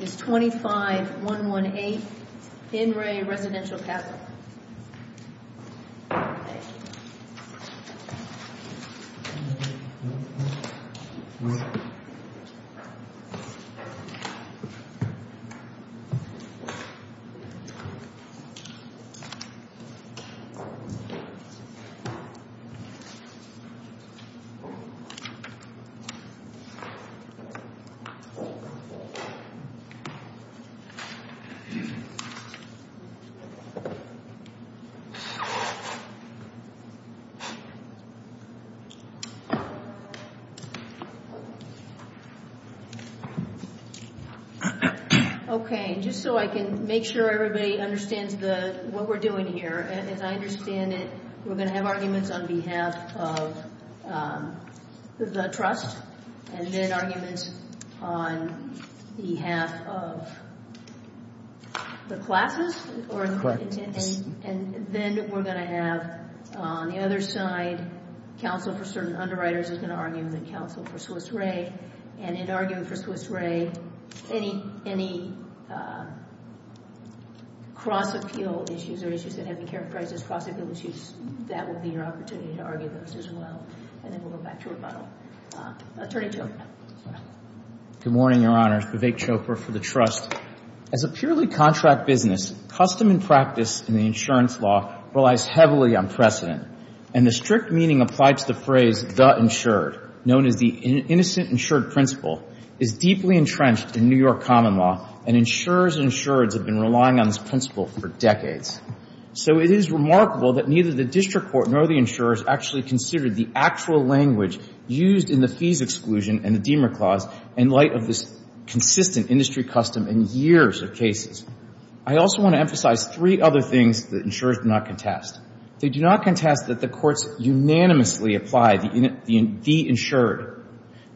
25118 In Re. Residential Capital Okay, just so I can make sure everybody understands what we're doing here, and if I understand it, we're going to have arguments on behalf of the trust, and then arguments on behalf of the classes, and then we're going to have, on the other side, counsel for certain underwriters is going to argue with counsel for Swiss Re, and in arguing for Swiss Re, any cross-appeal issues or issues that have been characterized as cross-appeal issues, that would be your opportunity to argue those as well, and then we'll go back to rebuttal. Attorney General. Good morning, Your Honor. David Chauffeur for the trust. As a purely contract business, custom and practice in the insurance law relies heavily on precedent, and the strict meaning applied to the phrase, the insured, known as the innocent insured principle, is deeply entrenched in New York common law, and insurers and insureds have been relying on this principle for decades. So it is remarkable that neither the district court nor the insurers actually considered the actual language used in the fees exclusion and demer clause in light of this consistent industry custom in years of cases. I also want to emphasize three other things that insurers do not contest. They do not contest that the courts unanimously apply the insured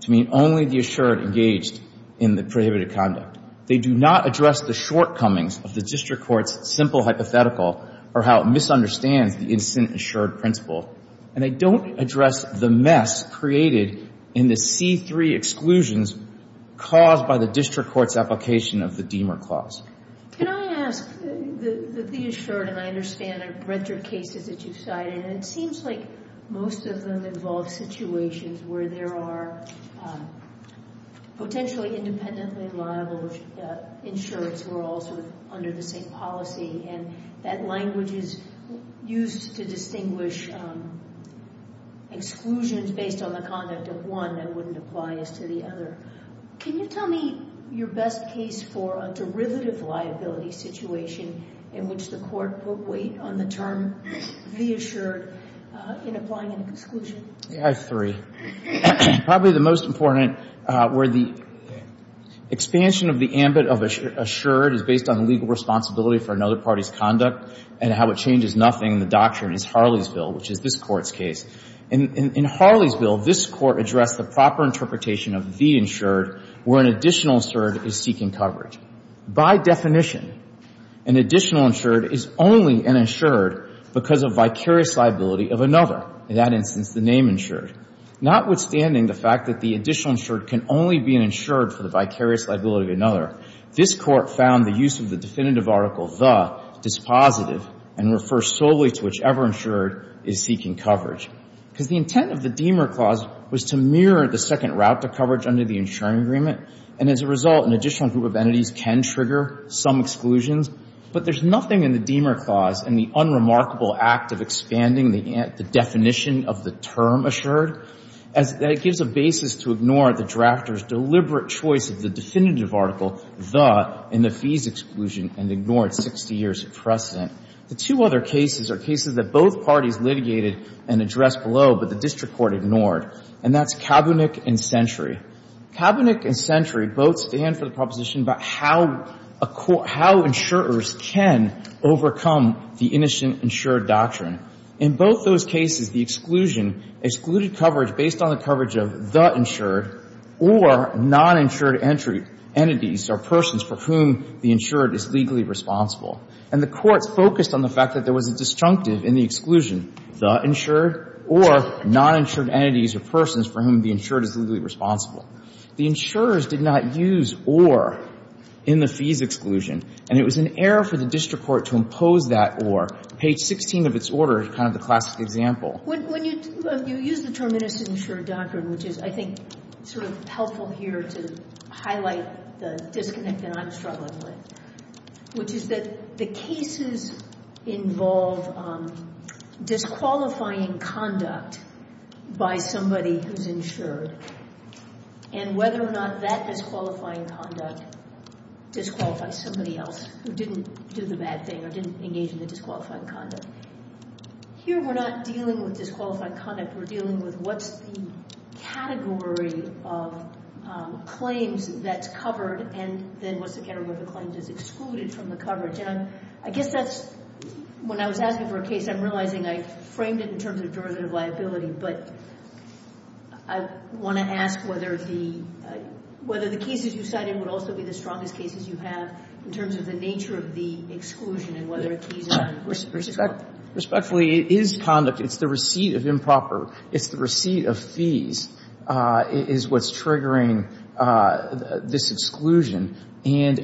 to mean only the insured engaged in the prohibited conduct. They do not address the shortcomings of the district court's simple hypothetical or how it misunderstands the insured principle, and they don't address the mess created in the C-3 exclusions caused by the district court's application of the demer clause. Can I ask, the fees short, and I understand, are retrocated that you cite, and it seems like most of them involve situations where there are potentially independently liable insurers who are also under the same policy, and that language is used to distinguish from exclusions based on the conduct of one that wouldn't apply as to the other. Can you tell me your best case for a derivative liability situation in which the court put weight on the term reassured in applying an exclusion? I agree. Probably the most important where the expansion of the ambit of assured is based on the legal responsibility for another party's conduct and how it changes nothing in the case of Harleysville, which is this court's case. In Harleysville, this court addressed the proper interpretation of the insured where an additional insured is seeking coverage. By definition, an additional insured is only an insured because of vicarious liability of another, in that instance, the name insured. Notwithstanding the fact that the additional insured can only be an insured for the vicarious liability of another, this court found the use of the definitive article, the, is positive and refers solely to whichever insured is seeking coverage. Because the intent of the Deamer Clause was to mirror the second route to coverage under the insuring agreement, and as a result, an additional group of entities can trigger some exclusions, but there's nothing in the Deamer Clause in the unremarkable act of expanding the definition of the term assured that gives a basis to ignore the drafter's deliberate choice of the definitive article, the, in the fees exclusion and ignored 60 years of precedent. The two other cases are cases that both parties litigated and addressed below, but the district court ignored, and that's Kaepernick and Century. Kaepernick and Century both stand for the proposition about how insurers can overcome the initial insured doctrine. In both those cases, the exclusion, excluded coverage based on the coverage of the insured or non-insured entities or persons for whom the insured is legally responsible, and the court focused on the fact that there was a disjunctive in the exclusion, the insured or non-insured entities or persons for whom the insured is legally responsible. The insurers did not use or in the fees exclusion, and it was an error for the district court to impose that or. Page 16 of its order is kind of the classic example. When you use the term in this insured doctrine, which is, I think, sort of helpful here to highlight the disconnect that I'm struggling with, which is that the cases involve disqualifying conduct by somebody who's insured, and whether or not that disqualifying conduct disqualifies somebody else who didn't do the bad thing or didn't engage in the disqualifying conduct. Here, we're not dealing with disqualified conduct. We're dealing with what the category of claims that's covered and then what the category of the claims that's excluded from the coverage. And I guess that's, when I was asking for a case, I'm realizing I framed it in terms of derivative liability, but I want to ask whether the cases you cite in would also be the strongest cases you have in terms of the nature of the exclusion and Respectfully, it is conduct. It's the receipt of improper. It's the receipt of fees is what's triggering this exclusion. And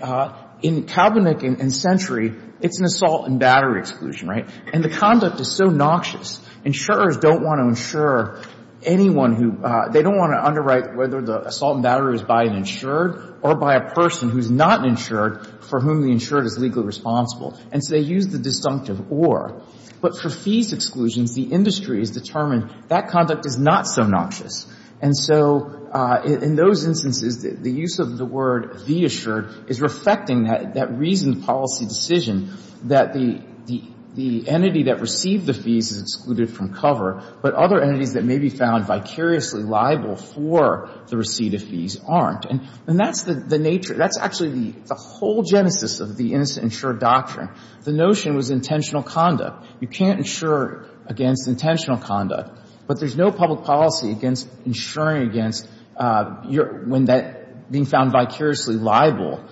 in Kalbennick and Century, it's an assault and battery exclusion, right? And the conduct is so noxious. Insurers don't want to insure anyone who, they don't want to underwrite whether the assault and battery is by an insured or by a person who's not insured for whom the insured is legally responsible. And so they use the disjunctive or. But for fees exclusion, the industry has determined that conduct is not so noxious. And so in those instances, the use of the word be assured is reflecting that reasoned policy decision that the entity that received the fees is excluded from cover, but other entities that may be found vicariously liable for the receipt of fees aren't. And that's the nature. That's actually the whole genesis of the innocent insured doctrine. The notion was intentional conduct. You can't insure against intentional conduct, but there's no public policy against insuring against when that being found vicariously liable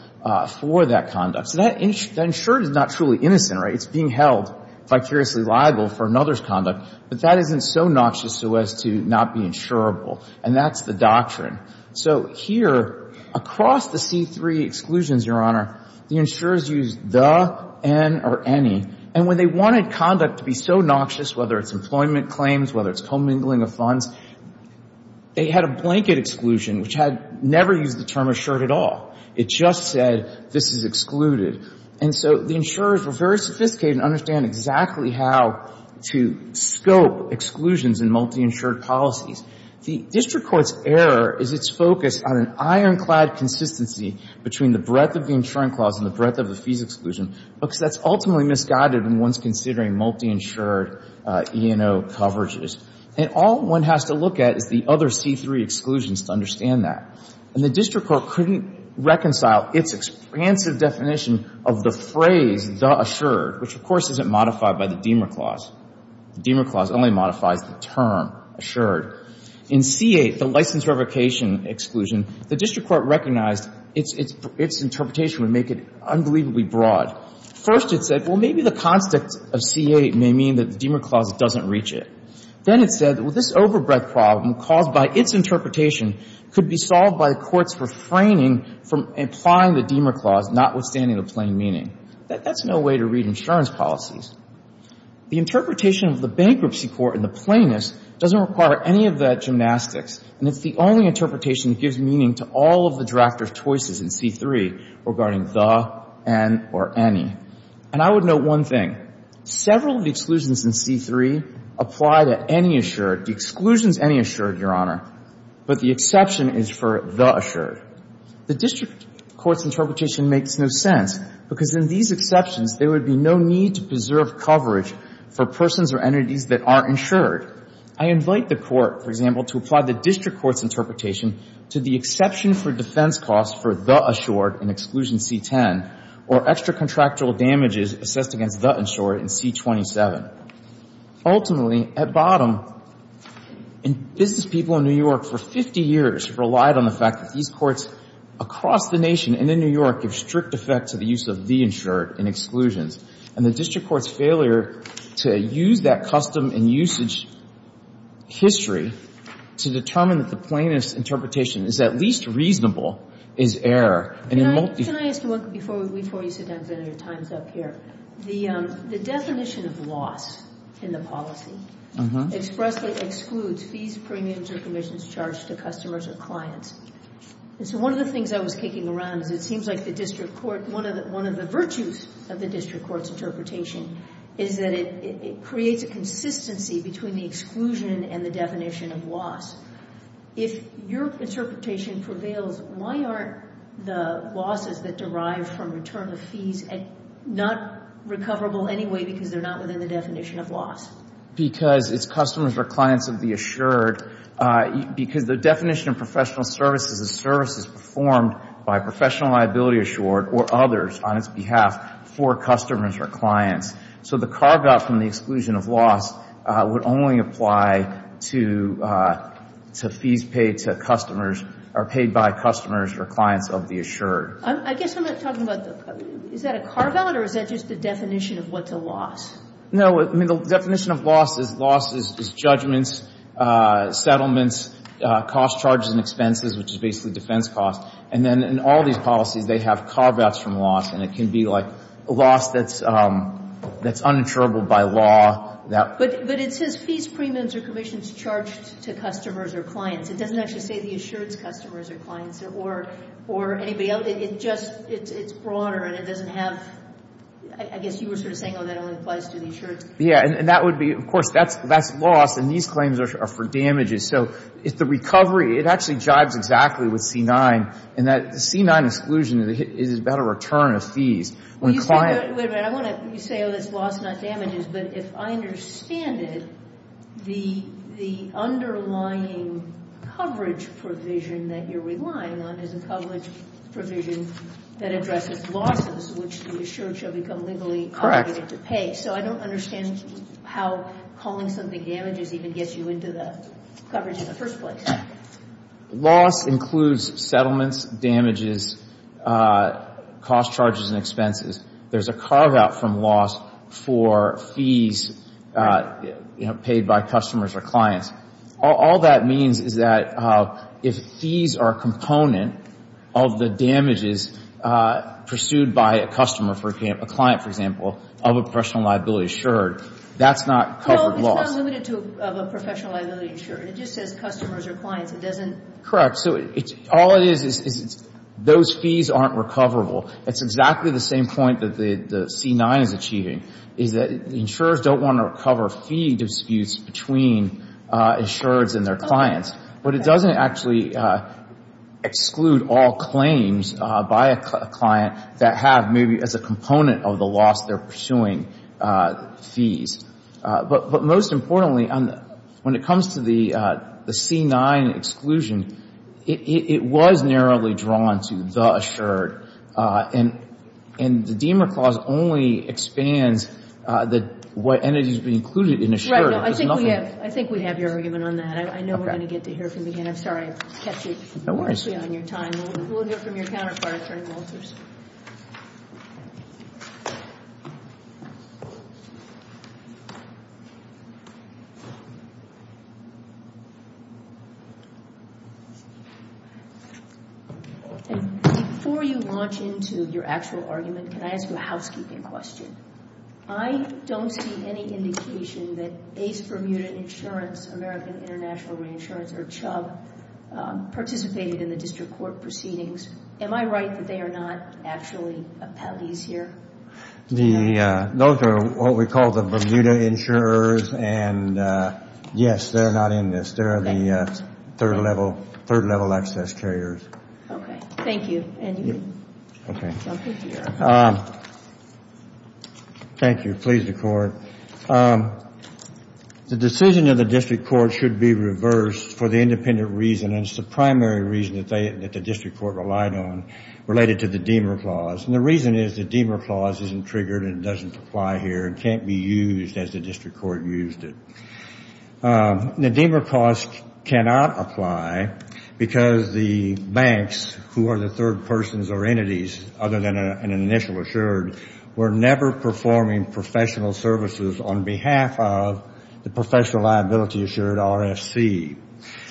for that conduct. That insured is not truly innocent, right? It's being held vicariously liable for another's conduct. But that isn't so noxious so as to not be insurable. And that's the So here, across the C3 exclusions, Your Honor, the insurers use the, an, or any. And when they wanted conduct to be so noxious, whether it's employment claims, whether it's commingling of funds, they had a blanket exclusion, which had never used the term assured at all. It just said this is excluded. And so the insurers were very sophisticated and understand exactly how to scope exclusions in multi-insured policies. The district court's error is it's focused on an ironclad consistency between the breadth of the insuring clause and the breadth of the fees exclusion because that's ultimately misguided when one's considering multi-insured E&O coverages. And all one has to look at is the other C3 exclusions to understand that. And the district court couldn't reconcile its expansive definition of the phrase the assured, which of course isn't modified by the C8, the license revocation exclusion, the district court recognized its interpretation would make it unbelievably broad. First it said, well, maybe the concept of C8 may mean that the Deamer clause doesn't reach it. Then it said, well, this overbreadth problem caused by its interpretation could be solved by the court's refraining from applying the Deamer clause, notwithstanding the plain meaning. That's no way to read insurance policies. The interpretation of the bankruptcy court in the plainness doesn't require any of that gymnastics. And it's the only interpretation that gives meaning to all of the drafter's choices in C3 regarding the, an, or any. And I would note one thing. Several of the exclusions in C3 apply to any assured. The exclusion's any assured, Your Honor. But the exception is for the assured. The district court's interpretation makes no sense because in these exceptions there would be no need to preserve coverage for persons or entities that aren't insured. I invite the court, for example, to apply the district court's interpretation to the exception for defense costs for the assured in Exclusion C10 or extra-contractual damages assessed against the insured in C27. Ultimately, at bottom, business people in New York for 50 years relied on the fact that these courts across the nation and in New York give strict effect to the use of the insured in exclusions. And the district court's failure to use that custom and usage history to determine that the plainness interpretation is at least reasonable is error. And in most... Can I ask you one thing before you sit down for your time's up here? The definition of loss in the policy expressly excludes fees, premiums, or commissions charged to customers or clients. And so one of the things I was kicking around, and it seems like the district court, one of the virtues of the district court's interpretation is that it creates a consistency between the exclusion and the definition of loss. If your interpretation prevails, why aren't the losses that derive from return of fees not recoverable anyway because they're not within the definition of loss? Because if customers or clients would be assured, because the definition of professional services is services performed by professional liability assured or others on its behalf for customers or clients, so the carve-out from the exclusion of loss would only apply to fees paid to customers or paid by customers or clients, I'll be assured. I guess I'm not talking about... Is that a carve-out or is that just the definition of what's a loss? No, the definition of loss is judgments, settlements, cost charges and expenses, which is basically defense costs. And then in all these policies, they have carve-outs from loss, and it can be like a loss that's uninsurable by law. But it says fees, premiums, or commissions charged to customers or clients. It doesn't actually say the assured customers or clients or anybody else. It's broader and it doesn't have... I guess you were sort of saying that applies to the insured. Yeah, and that would be... Of course, that's loss, and these claims are for damages. So it's the recovery. It actually jibes exactly with C-9, and that C-9 exclusion is about the return of fees when clients... Wait a minute. I want to say that it's loss, not damages, but if I understand it, the underlying coverage provision that you're relying on is a coverage provision that addresses losses, which the insured shall become legally obligated to pay. So I don't understand how calling something damages even gets you into the coverage in the first place. Loss includes settlements, damages, cost charges, and expenses. There's a carve-out from loss for fees paid by customers or clients. All that means is that if fees are a component of the damages pursued by a client, for example, of a professional liability insured, that's not covered loss. It's not limited to a professional liability insured. It just says customers or clients. It doesn't... Correct. So all it is is those fees aren't recoverable. It's exactly the same point that the C-9 is achieving, is that insurers don't want to recover fee disputes between insurers and their clients, but it doesn't actually exclude all claims by a client that have maybe as a component of the loss they're pursuing fees. But most importantly, when it comes to the C-9 exclusion, it was narrowly drawn to the insured, and the DEMA clause only expands what energy has been included in insured. Right. I think we have your argument on that. I know we're going to get to hear from you again. I'm sorry I kept you from your time. No worries. Let's hear from your counterpart, Terry Wolters. Before you launch into your actual argument, can I ask you a housekeeping question? I don't see any indication that AIDS-Bermuda Insurance, American International Reinsurance, or CHUG, participated in the district court proceedings. Am I right that they are not actually out of these here? Those are what we call the Bermuda insurers, and yes, they're not in this. They're the third-level access carriers. Okay. Thank you. Thank you. Please record. The decision of the district court should be reversed for the independent reason, and it's the primary reason that the district court relied on, related to the DEMA clause. And the reason is the DEMA clause isn't triggered and doesn't apply here and can't be used as the district court used it. The DEMA clause cannot apply because the banks, who are the third persons or entities other than an initial insured, were never performing professional services on behalf of the professional liability-assured RSC.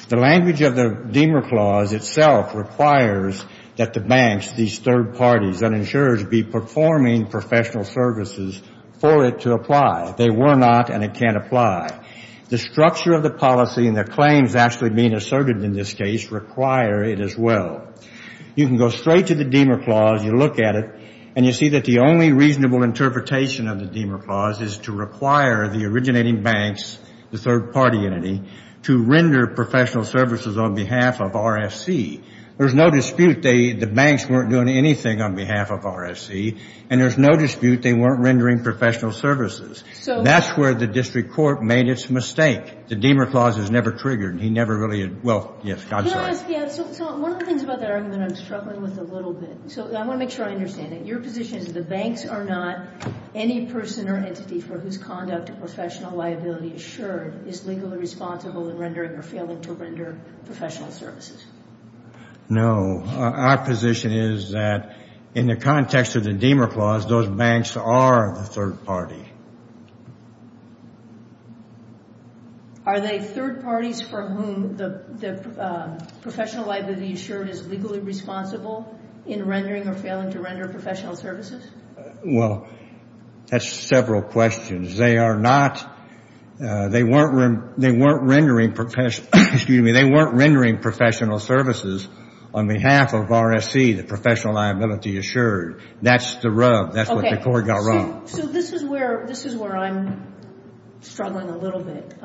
The language of the DEMA clause itself requires that the banks, these third parties, that insurers be performing professional services for it to apply. They were not, and it can't apply. The structure of the policy and the claims actually being asserted in this case require it as well. You can go straight to the DEMA clause, you look at it, and you see that the only reasonable interpretation of the DEMA clause is to require the originating banks, the third-party entity, to render professional services on behalf of RSC. There's no dispute the banks weren't doing anything on behalf of RSC, and there's no dispute they weren't rendering professional services. That's where the district court made its mistake. The DEMA clause is never triggered. He never really, well, yes, I'm sorry. One of the things that I'm struggling with a little bit, so I want to make sure I understand it. Your position is the banks are not any person or entity for whose conduct professional liability-assured is legally responsible in rendering or failing to render professional services. No. Our position is that in the context of the DEMA clause, those banks are the third party. Are they third parties for whom the professional liability-assured is legally responsible in rendering or failing to render professional services? Well, that's several questions. They are not, they weren't rendering professional, excuse me, they weren't rendering professional services on behalf of RSC, the professional liability-assured. That's the rub. That's what the court got wrong. So this is where, this is where I'm struggling a little bit.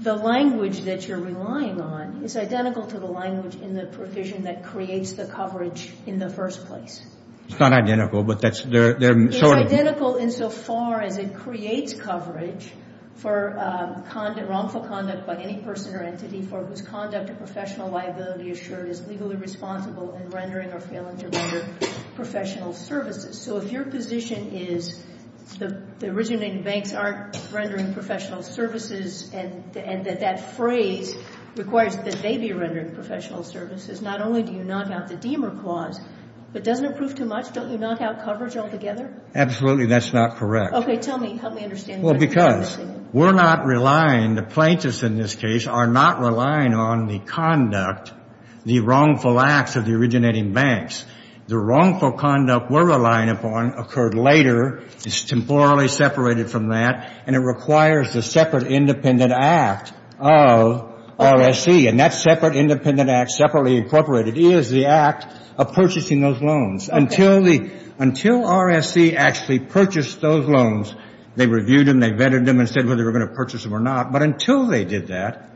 The language that you're relying on is identical to the language in the provision that creates the coverage in the first place. It's not identical, but that's, they're sort of... They're identical insofar as it creates coverage for wrongful conduct by any person or entity for whose conduct of professional liability-assured is legally responsible in rendering or failing to render professional services. So if your position is the originating banks aren't rendering professional services and that that phrase requires that they be rendering professional services, not only do you knock out the DEMA clause, but doesn't that prove too much? Don't you knock out coverage altogether? Absolutely, that's not correct. Okay, tell me, help me understand. Well, because we're not relying, the plaintiffs in this case are not relying on the conduct, the wrongful acts of the originating banks. The wrongful conduct we're relying upon occurred later, it's temporally separated from that, and it requires the separate independent act of RSC, and that separate independent act, separately incorporated, is the act of purchasing those loans. Until RSC actually purchased those loans, they reviewed them, they vetted them and said whether they were going to purchase them or not, but until they did that,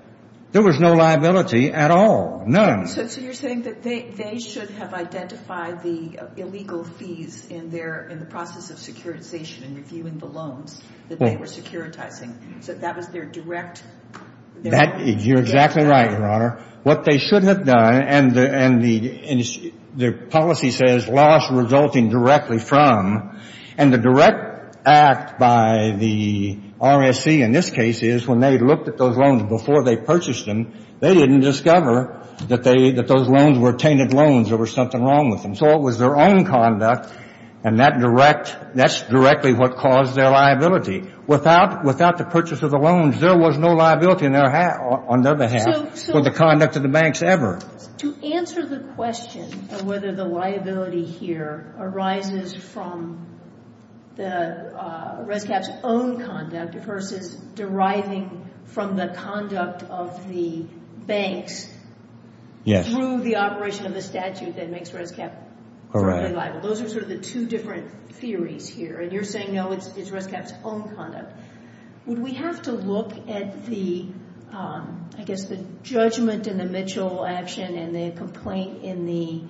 there was no liability at all, none. So you're saying that they should have identified the illegal fees in the process of securitization and reviewing the loans that they were securitizing, that that was their direct... You're exactly right, Your Honor. What they shouldn't have done, and the policy says loss resulting directly from, and the direct act by the RSC in this case is when they looked at those loans before they purchased them, they didn't discover that those loans were tainted loans, there was something wrong with them. So it was their own conduct, and that's directly what caused their liability. Without the purchase of the loans, there was no liability on their behalf for the conduct of the banks ever. To answer the question of whether the liability here arises from the Red Cap's own conduct versus deriving from the conduct of the bank through the operation of the statute that makes Red Cap... Those are sort of the two different theories here, and you're saying no, it's Red Cap's own conduct. Would we have to look at the judgment in the Mitchell action and the complaint in the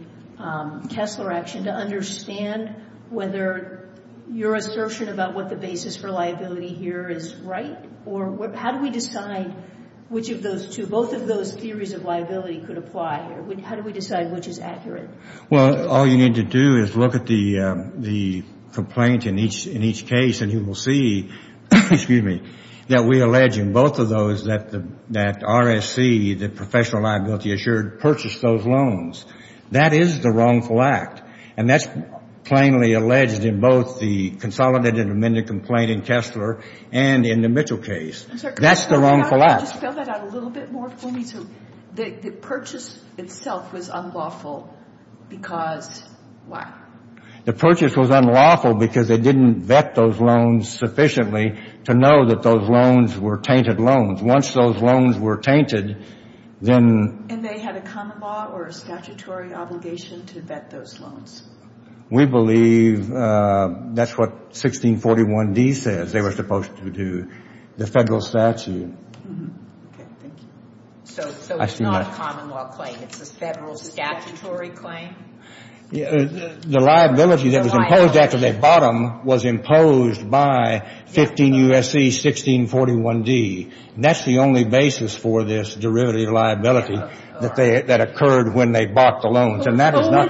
Kessler action to understand whether your assertion about what the basis for liability here is right, or how do we decide which of those two, both of those theories of liability could apply? How do we decide which is accurate? Well, all you need to do is look at the complaint in each case, and you will see that we allege in both of those that RSC, the professional liability assured, purchased those loans. That is the wrongful act, and that's plainly alleged in both the consolidated amended complaint in Kessler and in the Mitchell case. That's the wrongful act. Could you spell that out a little bit more for me? The purchase itself was unlawful because... The purchase was unlawful because they didn't vet those loans sufficiently to know that those loans were tainted loans. Once those loans were tainted, then... And they had a common law or a statutory obligation to vet those loans. We believe that's what 1641D says they were supposed to do, the federal statute. So it's not a common law claim, it's a federal statutory claim? The liability that was imposed after that bottom was imposed by 15 U.S.C. 1641D. That's the only basis for this derivative liability that occurred when they bought the loans. And that is not...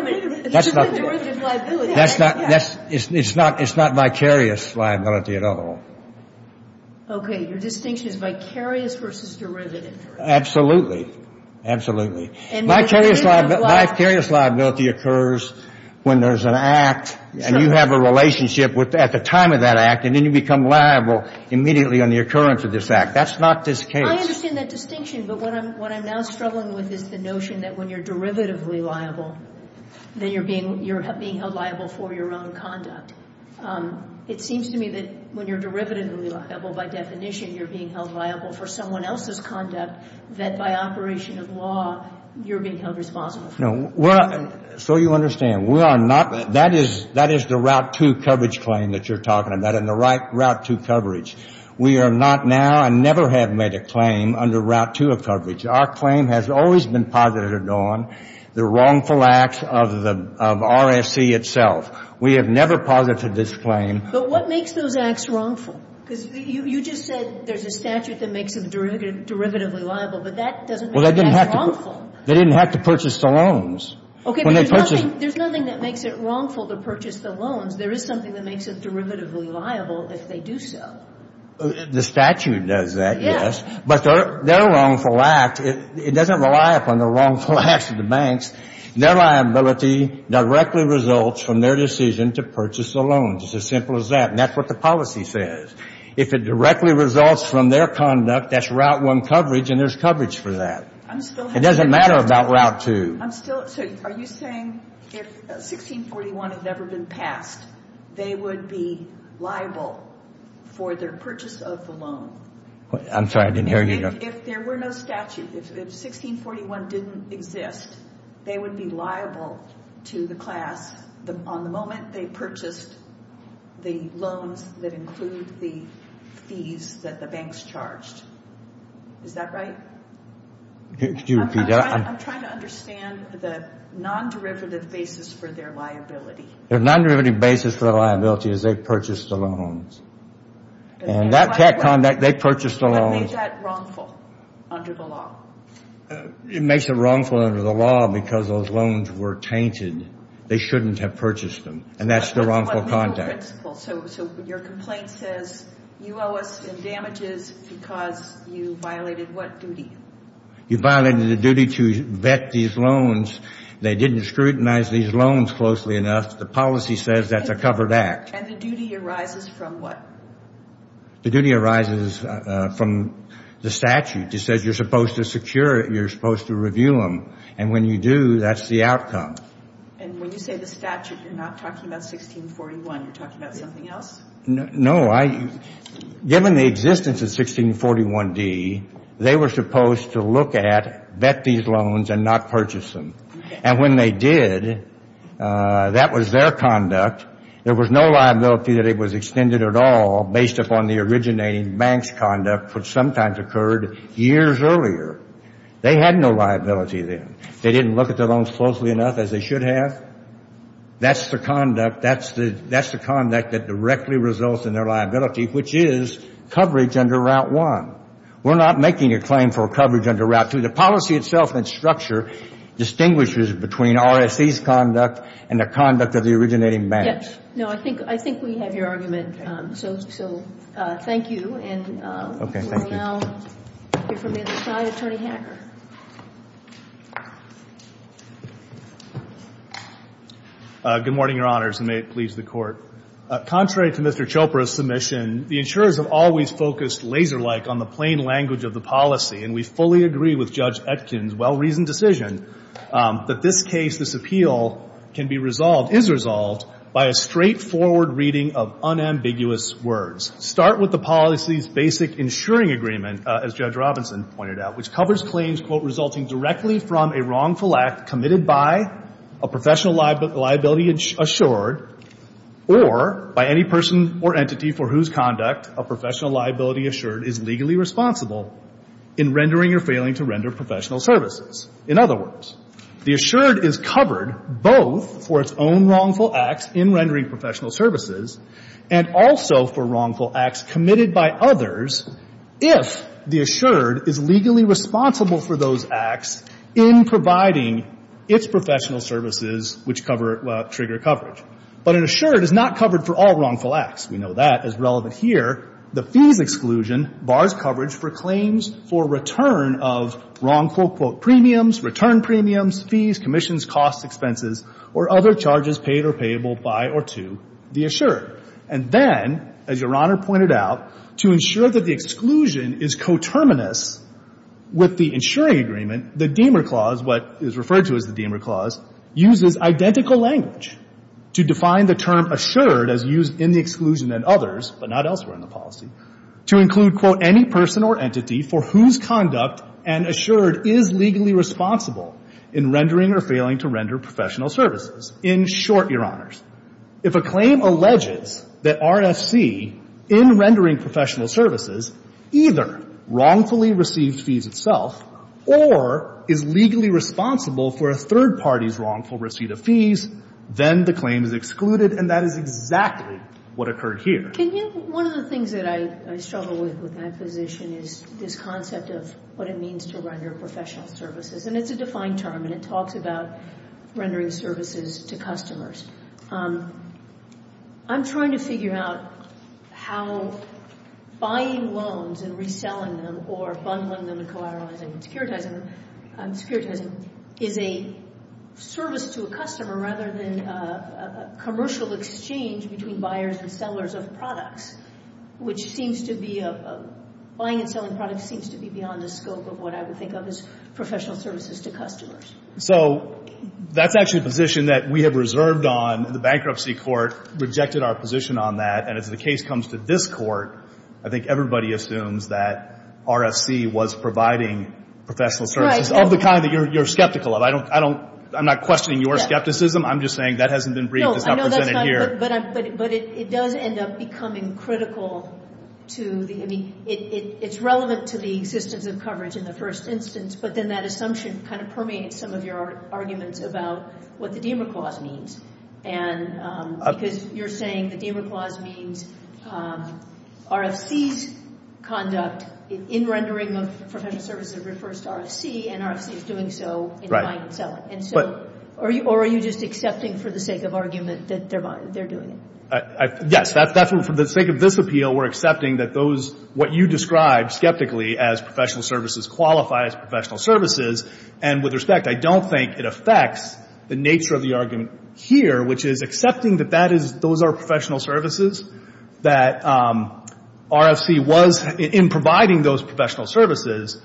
It's not vicarious liability at all. Okay, your distinction is vicarious versus derivative. Absolutely. Absolutely. Vicarious liability occurs when there's an act, and you have a relationship at the time of that act, and then you become liable immediately on the occurrence of this act. That's not this case. I understand that distinction, but what I'm now struggling with is the notion that when you're derivatively liable, then you're being held liable for your own conduct. It seems to me that when you're derivatively liable by definition, you're being held liable for someone else's conduct, that by operation of law, you're being held responsible. So you understand, that is the Route 2 coverage claim that you're talking about, and the right Route 2 coverage. We are not now, and never have made a claim under Route 2 of coverage. Our claim has always been posited on the wrongful acts of RSC itself. We have never posited this claim. But what makes those acts wrongful? Because you just said there's a statute that makes them derivatively liable, but that doesn't make them wrongful. They didn't have to purchase the loans. There's nothing that makes it wrongful to purchase the loans. There is something that makes them derivatively liable if they do so. The statute does that, yes, but their wrongful act, it doesn't rely upon the wrongful acts of the banks. Their liability directly results from their decision to purchase the loans. It's as simple as that, and that's what the policy says. If it directly results from their conduct, that's Route 1 coverage, and there's coverage for that. It doesn't matter about Route 2. Are you saying if 1641 had never been passed, they would be liable for their purchase of the loan? I'm sorry, I didn't hear you. If there were no statute, if 1641 didn't exist, they would be liable to the class on the moment they purchased the loan that includes the fees that the banks charged. Is that right? Excuse me. I'm trying to understand the non-derivative basis for their liability. Their non-derivative basis for their liability is they purchased the loans, and that conduct, they purchased the loans. What makes that wrongful under the law? It makes it wrongful under the law because those loans were tainted. They shouldn't have purchased them, and that's the wrongful conduct. Your complaint says you owe us in damages because you violated what duty? You violated the duty to vet these loans. They didn't scrutinize these loans closely enough. The policy says that's a covered act. And the duty arises from what? The duty arises from the statute. It says you're supposed to secure it, you're supposed to review them, and when you do, that's the outcome. And when you say the statute, you're not talking about 1641. You're talking about something else? No. Given the existence of 1641D, they were supposed to look at, vet these loans, and not purchase them. And when they did, that was their conduct. There was no liability that it was extended at all based upon the originating bank's conduct, which sometimes occurred years earlier. They had no liability then. They didn't look at their loans closely enough as they should have. That's the conduct that directly results in their liability, which is coverage under Route 1. We're not making a claim for coverage under Route 2. The policy itself and structure distinguishes between RSE's conduct and the conduct of the originating banks. No, I think we have your argument, so thank you. Okay, thank you. Good morning, Your Honors, and may it please the Court. Contrary to Mr. Chopra's submission, the insurers have always focused laser-like on the plain language of the policy, and we fully agree with Judge Etkin's well-reasoned decision that this case, this appeal, can be resolved, is resolved by a straightforward reading of unambiguous words. Start with the policy's basic insuring agreement, as Judge Robinson pointed out, which covers claims, quote, resulting directly from a wrongful act committed by a professional liability assured or by any person or entity for whose conduct a professional liability assured is legally responsible in rendering or failing to render professional services. In other words, the assured is covered both for its own wrongful acts in rendering professional services and also for wrongful acts committed by others if the assured is legally responsible for those acts in providing its professional services which trigger coverage. But an assured is not covered for all wrongful acts. We know that as relevant here. The fee of exclusion bars coverage for claims for return of wrongful, quote, premiums, return premiums, fees, commissions, costs, expenses, or other charges paid or payable by or to the assured. And then, as Your Honor pointed out, to ensure that the exclusion is coterminous with the insuring agreement, the Deamer Clause, what is referred to as the Deamer Clause, uses identical language to define the term assured as used in the exclusion and others, but not elsewhere in the policy, to include, quote, any person or entity for whose conduct an assured is legally responsible in rendering or failing to render professional services. In short, Your Honors, if a claim alleges that RFC, in rendering professional services, either wrongfully receives fees itself or is legally responsible for a third party's wrongful receipt of fees, then the claim is excluded, and that is exactly what occurred here. One of the things that I struggle with with my position is this concept of what it means to render professional services. And it's a defined term, and it talks about rendering services to customers. I'm trying to figure out how buying loans and reselling them or bundling them in the car of a security agent is a service to a customer rather than a commercial exchange between buyers and sellers of products, which seems to be a – buying and selling products seems to be beyond the scope of what I would think of as professional services to customers. So that's actually a position that we have reserved on, and the bankruptcy court rejected our position on that. And if the case comes to this court, I think everybody assumes that RFC was providing professional services. Right. Of the kind that you're skeptical of. I don't – I'm not questioning your skepticism. I'm just saying that hasn't been briefly represented here. No, I know that's not – but it does end up becoming critical to the – I mean, it's relevant to the existence of coverage in the first instance, but then that assumption kind of permeates some of your arguments about what the DEMA clause means. And because you're saying the DEMA clause means RFC's conduct in rendering of professional services refers to RFC, and RFC is doing so in buying and selling. And so – or are you just accepting for the sake of argument that they're doing it? Yes. That's what – for the sake of this appeal, we're accepting that those – what you described skeptically as professional services qualify as professional services, and with respect, I don't think it affects the nature of the argument here, which is accepting that that is – those are professional services, that RFC was – in providing those professional services,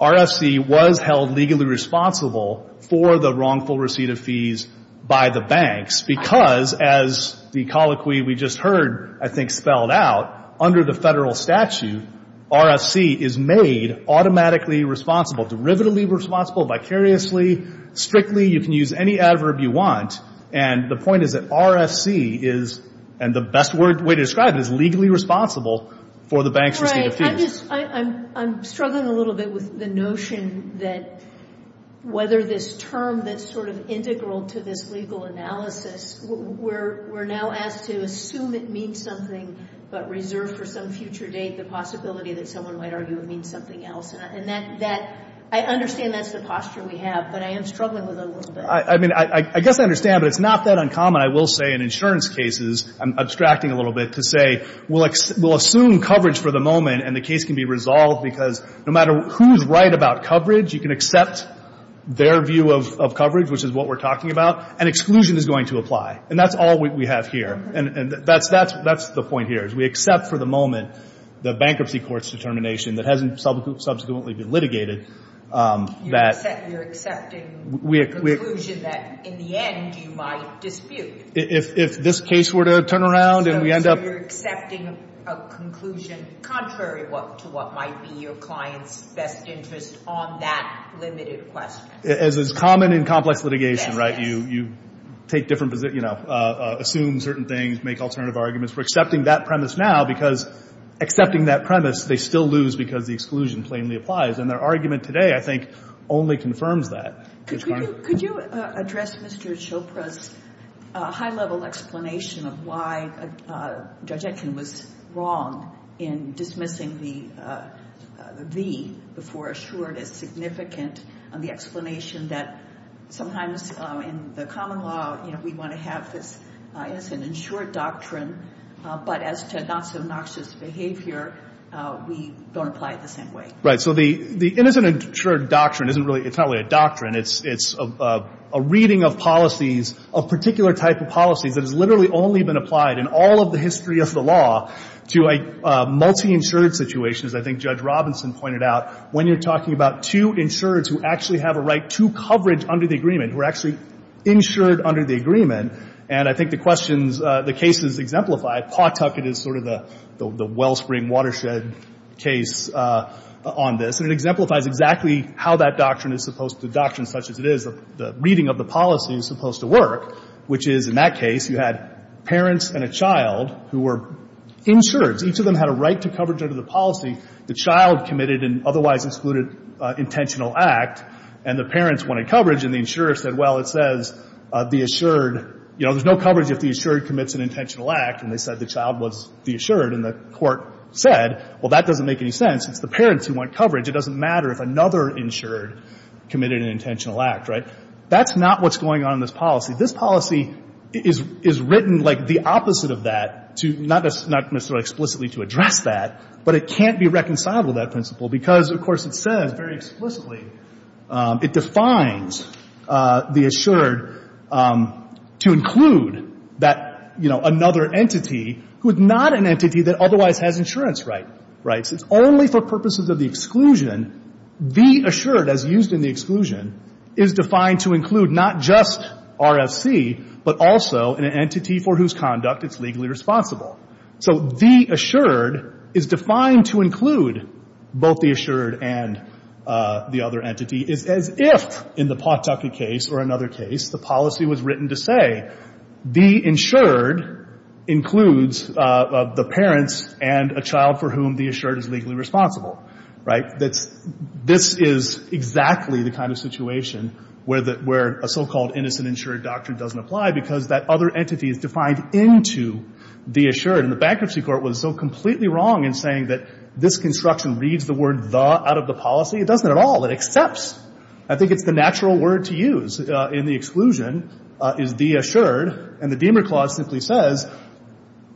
RFC was held legally responsible for the wrongful receipt of fees by the banks, because, as the colloquy we just heard, I think, spelled out, under the federal statute, RFC is made automatically responsible, derivatively responsible, vicariously, strictly, you can use any adverb you want, and the point is that RFC is – and the best way to describe it is legally responsible for the bank's receipt of fees. Right. I'm struggling a little bit with the notion that whether this term that's sort of integral to this legal analysis, we're now asked to assume it means something, but reserve for some future date the possibility that someone might argue it means something else, and that – I understand that's the posture we have, but I am struggling a little bit. I mean, I guess I understand, but it's not that uncommon, I will say, in insurance cases – I'm abstracting a little bit to say we'll assume coverage for the moment, and the case can be resolved because no matter who's right about coverage, you can accept their view of coverage, which is what we're talking about, and exclusion is going to apply, and that's all we have here. And that's the point here is we accept for the moment the bankruptcy court's determination that hasn't subsequently been litigated that – You're accepting the conclusion that in the end you might dispute. If this case were to turn around and we end up – You're accepting a conclusion contrary to what might be your client's best interest on that limited question. As is common in complex litigation, right? You take different – you know, assume certain things, make alternative arguments. We're accepting that premise now because accepting that premise, they still lose because the exclusion plainly applies, and their argument today, I think, only confirms that. Could you address Mr. Chopra's high-level explanation of why Judge Etkin was wrong in dismissing the V before assuring its significance on the explanation that sometimes in the common law, you know, we want to have this – it's an insured doctrine, but as to not-so-noxious behavior, we don't apply it the same way. Right. So the innocent insured doctrine isn't really – it's not really a doctrine. It's a reading of policies, a particular type of policy that has literally only been applied in all of the history of the law to a multi-insured situation, as I think Judge Robinson pointed out, when you're talking about two insureds who actually have a right to coverage under the agreement, who are actually insured under the agreement. And I think the questions – the cases exemplify it. The Bucket is sort of the wellspring, watershed case on this, and it exemplifies exactly how that doctrine is supposed to – doctrines such as it is, the reading of the policy is supposed to work, which is, in that case, you had parents and a child who were insured. So each of them had a right to coverage under the policy. The child committed an otherwise excluded intentional act, and the parents wanted coverage, and the insurer said, well, it says the assured – you know, there's no coverage if the assured commits an intentional act, and they said the child was the assured, and the court said, well, that doesn't make any sense. It's the parents who want coverage. It doesn't matter if another insured committed an intentional act, right? That's not what's going on in this policy. This policy is written like the opposite of that, not necessarily explicitly to address that, but it can't be reconciled with that principle because, of course, it says very explicitly, it defines the assured to include that, you know, another entity who is not an entity that otherwise has insurance rights. It's only for purposes of the exclusion. The assured, as used in the exclusion, is defined to include not just RFC, but also an entity for whose conduct it's legally responsible. So the assured is defined to include both the assured and the other entity, as if, in the post-doctorate case or another case, the policy was written to say the insured includes the parents and a child for whom the assured is legally responsible, right? This is exactly the kind of situation where a so-called innocent insured doctrine doesn't apply because that other entity is defined into the assured, and the bankruptcy court was so completely wrong in saying that this construction reads the word the out of the policy. It doesn't at all. It accepts. I think it's the natural word to use in the exclusion is the assured, and the Deamer Clause simply says,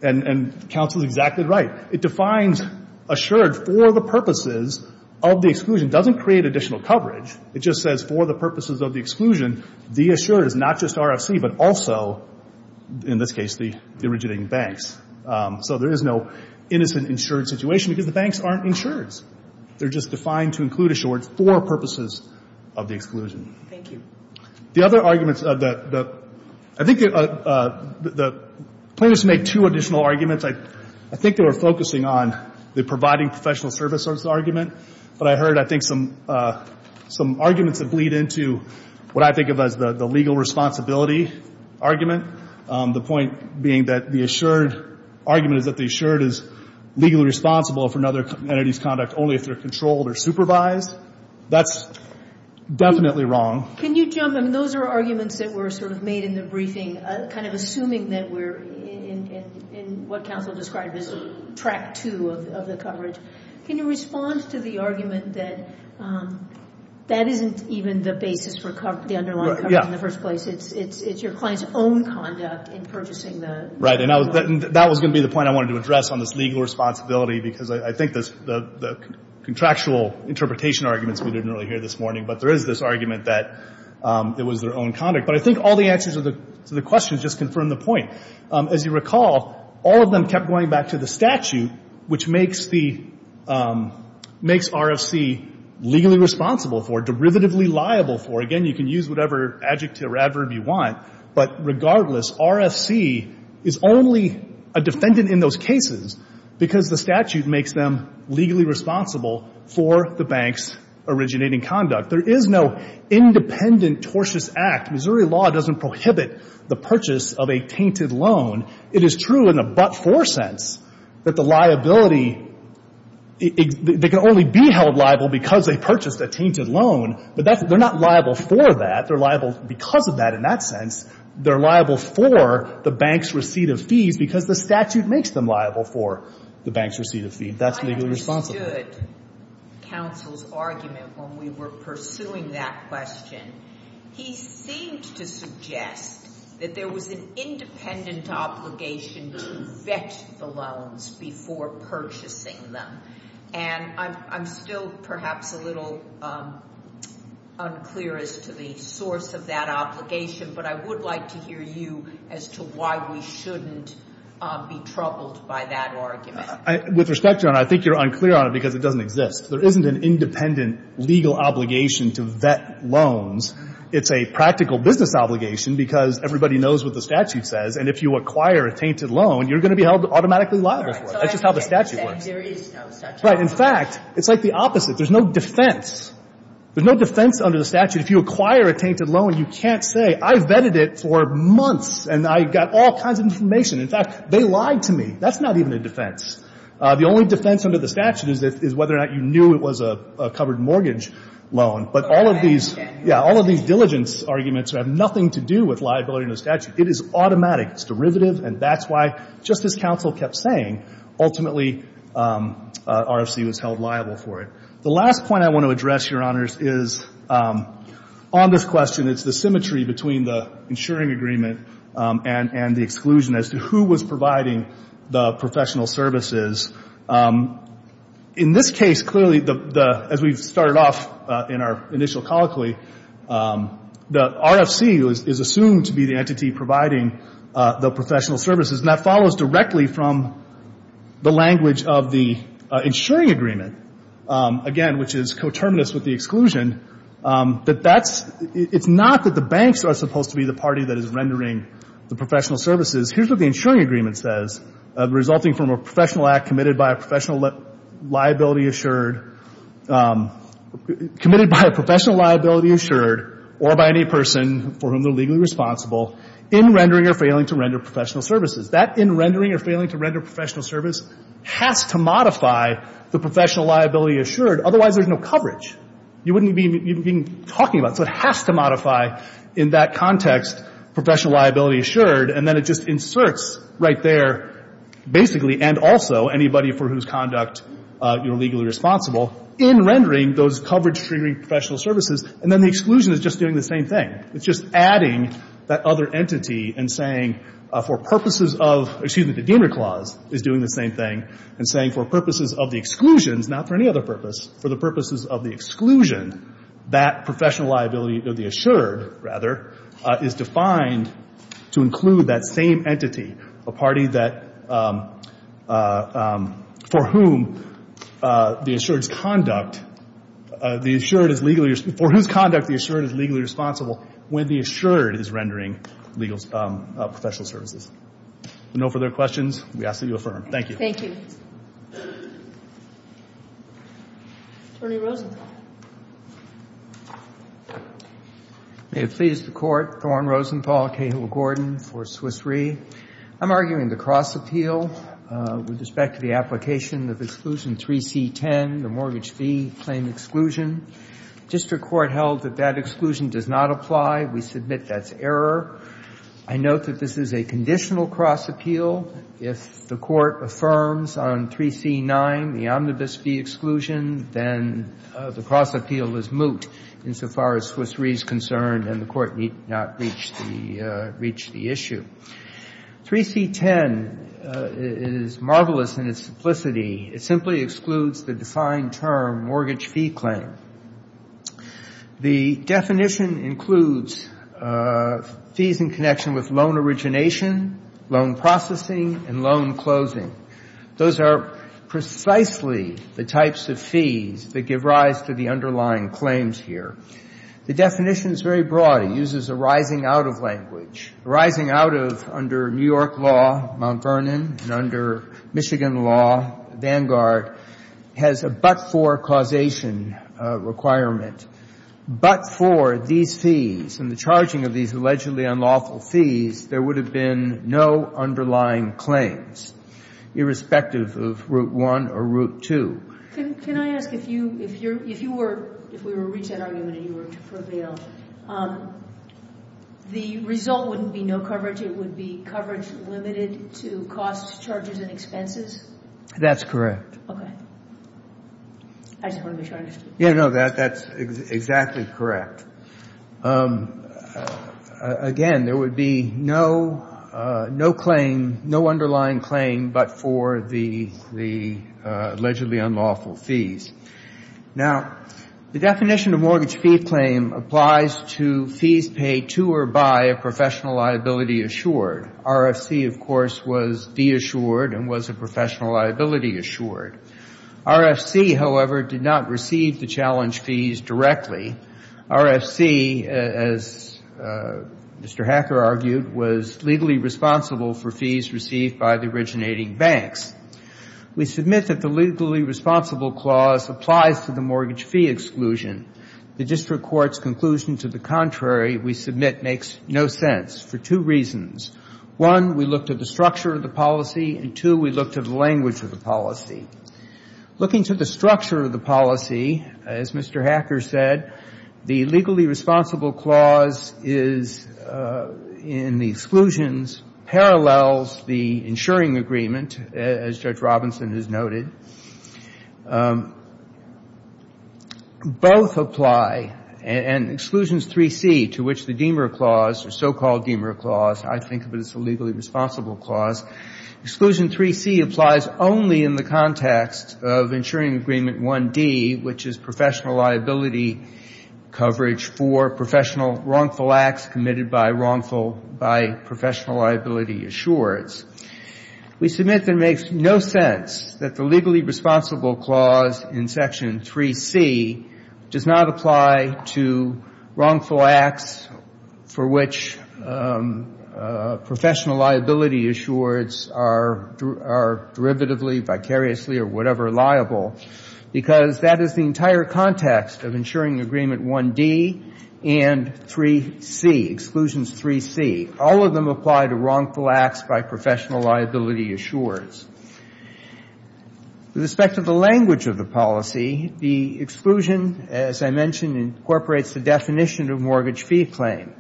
and counsel is exactly right, it defines assured for the purposes of the exclusion. It doesn't create additional coverage. It just says, for the purposes of the exclusion, the assured is not just RFC, but also, in this case, the originating banks. So there is no innocent insured situation because the banks aren't insured. They're just defined to include assured for purposes of the exclusion. Thank you. The other arguments, I think the plaintiffs make two additional arguments. I think they were focusing on the providing professional services argument, but I heard, I think, some arguments that bleed into what I think of as the legal responsibilities argument, the point being that the assured argument is that the assured is legally responsible for another entity's conduct only if they're controlled or supervised. That's definitely wrong. Can you jump in? Those are arguments that were sort of made in the briefing, kind of assuming that we're in what counsel described as track two of the coverage. Can you respond to the argument that that isn't even the basis for the underlying coverage in the first place? It's your client's own conduct in purchasing the— Right, and that was going to be the point I wanted to address on this legal responsibility because I think the contractual interpretation arguments we didn't really hear this morning, but there is this argument that it was their own conduct. But I think all the answers to the questions just confirm the point. As you recall, all of them kept going back to the statute, which makes RFC legally responsible for, derivatively liable for. Again, you can use whatever adjective or adverb you want, but regardless, RFC is only a defendant in those cases because the statute makes them legally responsible for the bank's originating conduct. There is no independent tortious act. Missouri law doesn't prohibit the purchase of a tainted loan. It is true in a but-for sense that the liability— they can only be held liable because they purchased a tainted loan, but they're not liable for that. They're liable because of that in that sense. They're liable for the bank's receipt of fees because the statute makes them liable for the bank's receipt of fees. That's legally responsible. I understood counsel's argument when we were pursuing that question. He seemed to suggest that there was an independent obligation to vet the loans before purchasing them, and I'm still perhaps a little unclear as to the source of that obligation, but I would like to hear you as to why we shouldn't be troubled by that argument. With respect to it, I think you're unclear on it because it doesn't exist. There isn't an independent legal obligation to vet loans. It's a practical business obligation because everybody knows what the statute says, and if you acquire a tainted loan, you're going to be held automatically liable. That's just how the statute works. In fact, it's like the opposite. There's no defense. There's no defense under the statute. If you acquire a tainted loan, you can't say, I vetted it for months and I got all kinds of information. In fact, they lied to me. That's not even a defense. The only defense under the statute is whether or not you knew it was a covered mortgage loan, but all of these diligence arguments have nothing to do with liability under the statute. It is automatic. It's derivative, and that's why, just as counsel kept saying, ultimately RFC was held liable for it. The last point I want to address, Your Honors, is on this question. It's the symmetry between the insuring agreement and the exclusion as to who was providing the professional services. In this case, clearly, as we started off in our initial colloquy, the RFC is assumed to be the entity providing the professional services, and that follows directly from the language of the insuring agreement, again, which is coterminous with the exclusion. It's not that the banks are supposed to be the party that is rendering the professional services. Here's what the insuring agreement says, resulting from a professional act committed by a professional liability assured or by any person for whom they're legally responsible in rendering or failing to render professional services. That in rendering or failing to render professional service has to modify the professional liability assured. Otherwise, there's no coverage. You wouldn't even be talking about it. So it has to modify, in that context, professional liability assured, and then it just inserts right there, basically, and also anybody for whose conduct you're legally responsible, in rendering those coverage-triggering professional services, and then the exclusion is just doing the same thing. It's just adding that other entity and saying, for purposes of— excuse me, the Gainer Clause is doing the same thing and saying, for purposes of the exclusion, not for any other purpose, for the purposes of the exclusion, that professional liability of the assured, rather, is defined to include that same entity, a party for whose conduct the assured is legally responsible when the assured is rendering professional services. No further questions? We ask that you affirm. Thank you. Thank you. Attorney Rosenthal. May it please the Court. Gordon Rosenthal, Cahill & Gordon for Swiss Re. I'm arguing the cross-appeal with respect to the application of Exclusion 3T10, the Mortgage Fee Claim Exclusion. District Court held that that exclusion does not apply. We submit that's error. I note that this is a conditional cross-appeal. If the Court affirms on 3C9, the omnibus fee exclusion, then the cross-appeal is moot insofar as Swiss Re. is concerned, and the Court need not reach the issue. 3C10 is marvelous in its simplicity. It simply excludes the defined term, Mortgage Fee Claim. The definition includes fees in connection with loan origination, loan processing, and loan closing. Those are precisely the types of fees that give rise to the underlying claims here. The definition is very broad. It uses a rising-out-of language. Rising-out-of under New York law, Mount Vernon, and under Michigan law, Vanguard, has a but-for causation requirement. But for these fees and the charging of these allegedly unlawful fees, there would have been no underlying claims, irrespective of Route 1 or Route 2. Can I ask, if you were to reach that argument and you were to prevail, the result wouldn't be no coverage. It would be coverage limited to costs, charges, and expenses? That's correct. Okay. I just wanted to make sure I understood. Yeah, no, that's exactly correct. Again, there would be no underlying claim but for the allegedly unlawful fees. Now, the definition of Mortgage Fee Claim applies to fees paid to or by a professional liability assured. RFC, of course, was de-assured and was a professional liability assured. RFC, however, did not receive the challenge fees directly. RFC, as Mr. Hacker argued, was legally responsible for fees received by the originating banks. We submit that the Legally Responsible Clause applies to the Mortgage Fee Exclusion. The District Court's conclusion to the contrary we submit makes no sense for two reasons. One, we looked at the structure of the policy, and two, we looked at the language of the policy. Looking to the structure of the policy, as Mr. Hacker said, the Legally Responsible Clause in the exclusions parallels the insuring agreement, as Judge Robinson has noted. Both apply, and Exclusions 3C, to which the Deamer Clause, the so-called Deamer Clause, I think of it as the Legally Responsible Clause, Exclusion 3C applies only in the context of insuring agreement 1D, which is professional liability coverage for professional wrongful acts committed by wrongful, by professional liability assured. We submit that it makes no sense that the Legally Responsible Clause in Section 3C does not apply to wrongful acts for which professional liability assures are derivatively, vicariously, or whatever liable, because that is the entire context of insuring agreement 1D and 3C, Exclusions 3C. All of them apply to wrongful acts by professional liability assures. With respect to the language of the policy, the exclusion, as I mentioned, incorporates the definition of mortgage fee claim.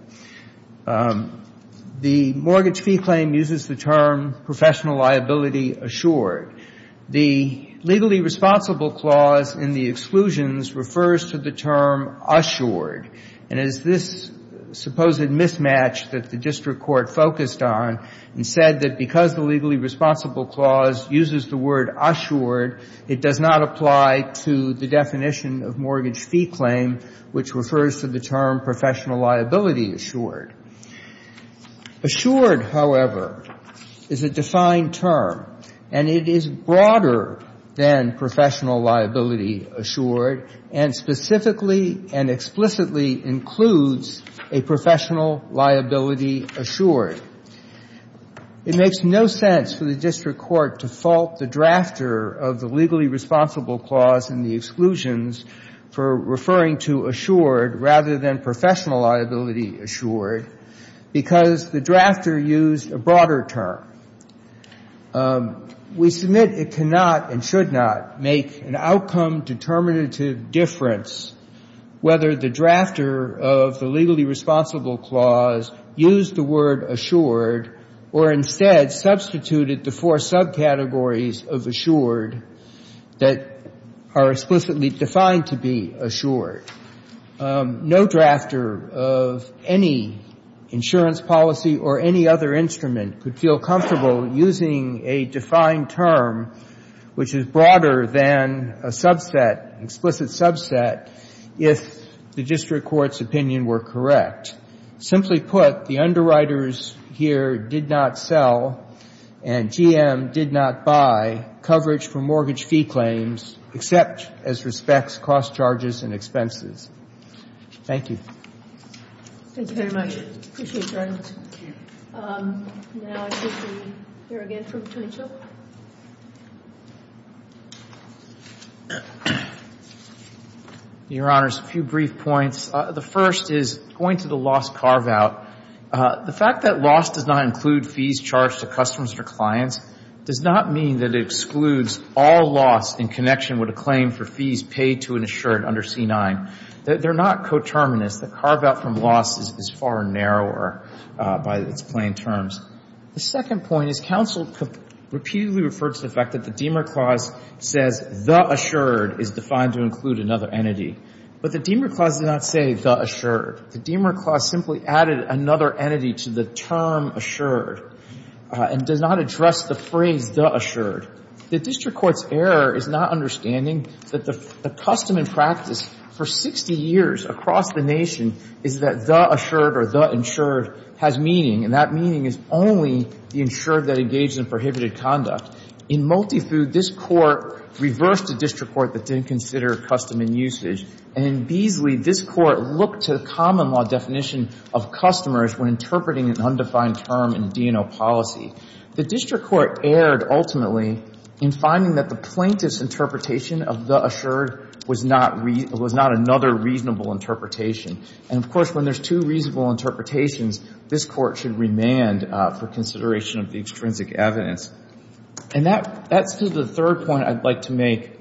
The mortgage fee claim uses the term professional liability assured. The Legally Responsible Clause in the exclusions refers to the term assured, and it is this supposed mismatch that the district court focused on and said that because the Legally Responsible Clause uses the word assured, it does not apply to the definition of mortgage fee claim, which refers to the term professional liability assured. Assured, however, is a defined term, and it is broader than professional liability assured, and specifically and explicitly includes a professional liability assured. It makes no sense for the district court to fault the drafter of the Legally Responsible Clause in the exclusions for referring to assured rather than professional liability assured because the drafter used a broader term. We submit it cannot and should not make an outcome determinative difference whether the drafter of the Legally Responsible Clause used the word assured or instead substituted the four subcategories of assured that are explicitly defined to be assured. No drafter of any insurance policy or any other instrument could feel comfortable using a defined term which is broader than an explicit subset if the district court's opinion were correct. Simply put, the underwriters here did not sell and GM did not buy coverage for mortgage fee claims except as respects cost charges and expenses. Thank you. Thank you very much. Appreciate your evidence. Thank you. Now I think we hear again from Tony Chilcott. Your Honor, just a few brief points. The first is going to the loss carve-out. The fact that loss does not include fees charged to customers or clients does not mean that it excludes all loss in connection with a claim for fees paid to an assured under C-9. They're not coterminous. The carve-out from loss is far narrower by the plain terms. The second point is counsel repeatedly referred to the fact that the Diemer Clause says the assured is defined to include another entity. But the Diemer Clause did not say the assured. The Diemer Clause simply added another entity to the term assured and did not address the phrase the assured. The district court's error is not understanding that the custom and practice for 60 years across the nation is that the assured or the insured has meaning and that meaning is only the insured that engages in prohibited conduct. In multifood, this court reversed the district court that didn't consider custom and usage. And, indeedly, this court looked to the common law definition of customers when interpreting an undefined term in D&O policy. The district court erred, ultimately, in finding that the plaintiff's interpretation of the assured was not another reasonable interpretation. And, of course, when there's two reasonable interpretations, this court should remand for consideration of the extrinsic evidence. And that leads to the third point I'd like to make.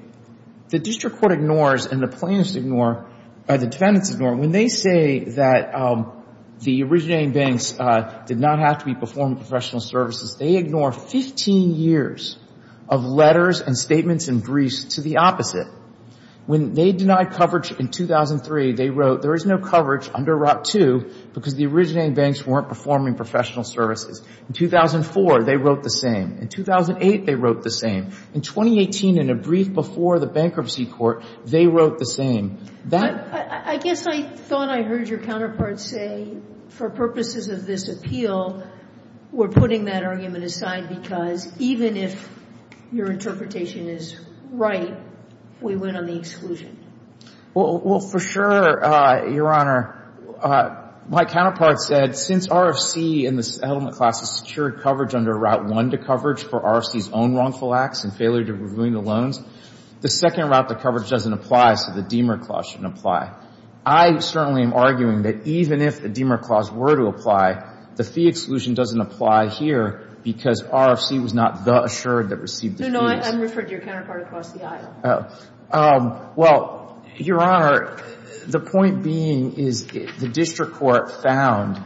The district court ignores and the plaintiffs ignore, and the defendants ignore. When they say that the originating banks did not have to perform professional services, they ignore 15 years of letters and statements in Greece to the opposite. When they denied coverage in 2003, they wrote, there is no coverage under Route 2 because the originating banks weren't performing professional services. In 2004, they wrote the same. In 2008, they wrote the same. In 2018, in a brief before the bankruptcy court, they wrote the same. I guess I thought I heard your counterpart say, for purposes of this appeal, we're putting that argument aside because even if your interpretation is right, we went on the exclusion. Well, for sure, Your Honor. My counterpart said, since RFC in the settlement process secured coverage under Route 1 to coverage for RFC's own wrongful acts and failure to renew the loans, the second route to coverage doesn't apply, so the Diemer clause shouldn't apply. I certainly am arguing that even if the Diemer clause were to apply, the fee exclusion doesn't apply here because RFC was not the assured that received the fee. No, no. I'm referring to your counterpart across the aisle. Well, Your Honor, the point being is the district court found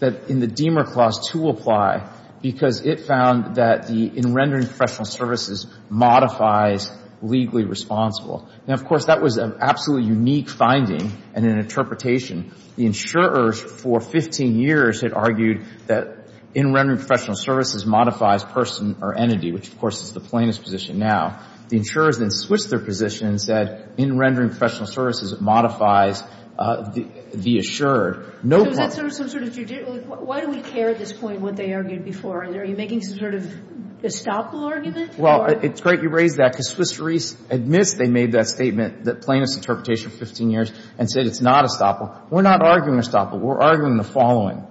that in the Diemer clause to apply because it found that in rendering professional services modifies legally responsible. Now, of course, that was an absolutely unique finding and an interpretation. The insurers for 15 years had argued that in rendering professional services modifies person or entity, which, of course, is the plaintiff's position now. The insurers then switched their position and said in rendering professional services modifies the assured. Why do we care at this point what they argued before? Are you making some sort of estoppel argument? Well, it's great you raised that because Swiss Reis admits they made that statement, the plaintiff's interpretation for 15 years, and said it's not estoppel. We're not arguing estoppel. We're arguing the following.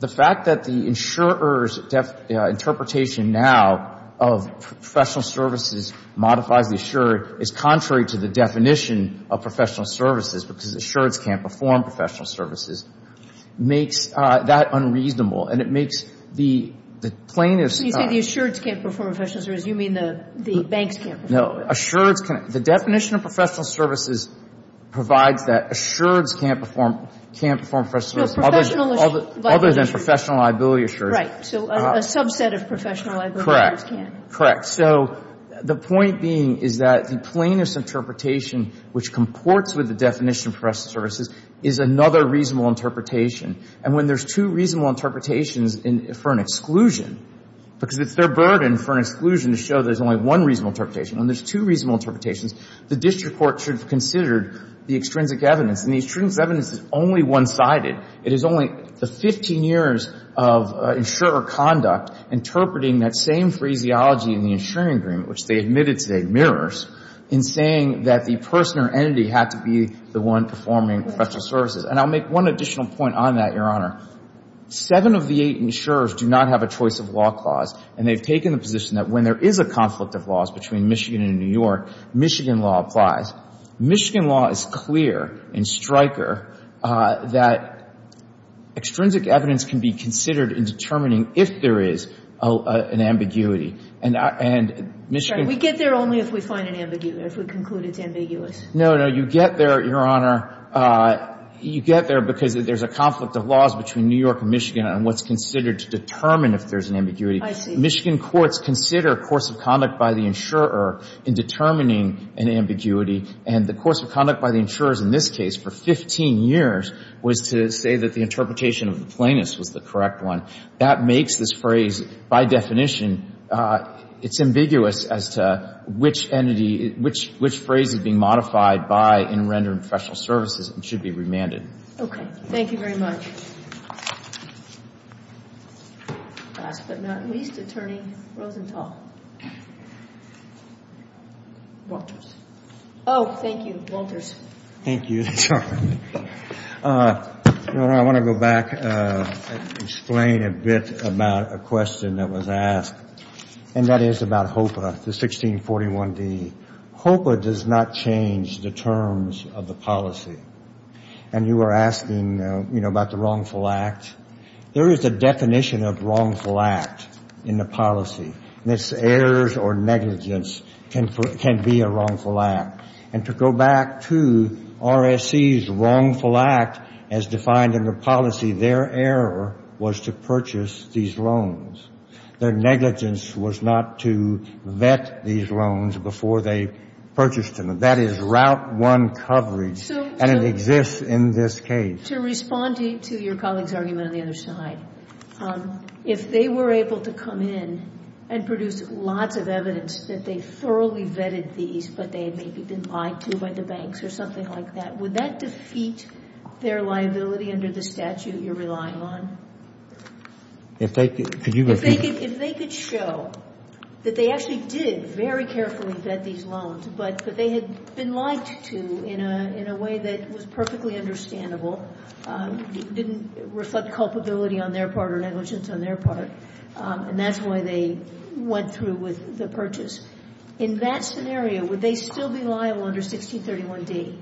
The fact that the insurer's interpretation now of professional services modifies the assured is contrary to the definition of professional services, which is assureds can't perform professional services, makes that unreasonable, and it makes the plaintiff's... You think the assureds can't perform professional services. You mean the banks can't perform professional services. No. Assureds can't. The definition of professional services provides that assureds can't perform professional services, other than professional liability assurances. Right. So a subset of professional liabilities can't. Correct. Correct. So the point being is that the plaintiff's interpretation, which comports with the definition of professional services, is another reasonable interpretation. And when there's two reasonable interpretations for an exclusion, because it's their burden for an exclusion to show there's only one reasonable interpretation, when there's two reasonable interpretations, the district court should have considered the extrinsic evidence. And the extrinsic evidence is only one-sided. It is only 15 years of insurer conduct interpreting that same phraseology in the insuring agreement, which they admitted today mirrors, in saying that the person or entity had to be the one performing professional services. And I'll make one additional point on that, Your Honor. Seven of the eight insurers do not have a choice of law clause, and they've taken the position that when there is a conflict of laws between Michigan and New York, Michigan law applies. Michigan law is clear in Stryker that extrinsic evidence can be considered in determining if there is an ambiguity. And Michigan... We get there only if we find an ambiguity, if we conclude it's ambiguous. No, no, you get there, Your Honor. You get there because there's a conflict of laws between New York and Michigan on what's considered to determine if there's an ambiguity. Michigan courts consider a course of conduct by the insurer in determining an ambiguity, and the course of conduct by the insurers in this case, for 15 years, was to say that the interpretation of the plaintiffs was the correct one. That makes this phrase, by definition, it's ambiguous as to which phrase is being modified by in rendering professional services and should be remanded. Okay. Thank you very much. Last but not least, Attorney Rosenthal. Oh, thank you. Walters. Thank you. Chuck. Your Honor, I want to go back and explain a bit about a question that was asked, and that is about HOPA, the 1641d. HOPA does not change the terms of the policy. And you were asking, you know, about the wrongful act. There is a definition of wrongful act in the policy. Mishears or negligence can be a wrongful act. And to go back to RSC's wrongful act as defined in the policy, their error was to purchase these loans. Their negligence was not to vet these loans before they purchased them. That is Route 1 coverage, and it exists in this case. To respond to your colleague's argument on the other side, if they were able to come in and produce lots of evidence that they thoroughly vetted these, but they had maybe been lied to by the banks or something like that, would that defeat their liability under the statute you're relying on? If they could show that they actually did very carefully vet these loans, but that they had been lied to in a way that was perfectly understandable, didn't reflect culpability on their part or negligence on their part, and that's why they went through with the purchase. In that scenario, would they still be liable under 1631D?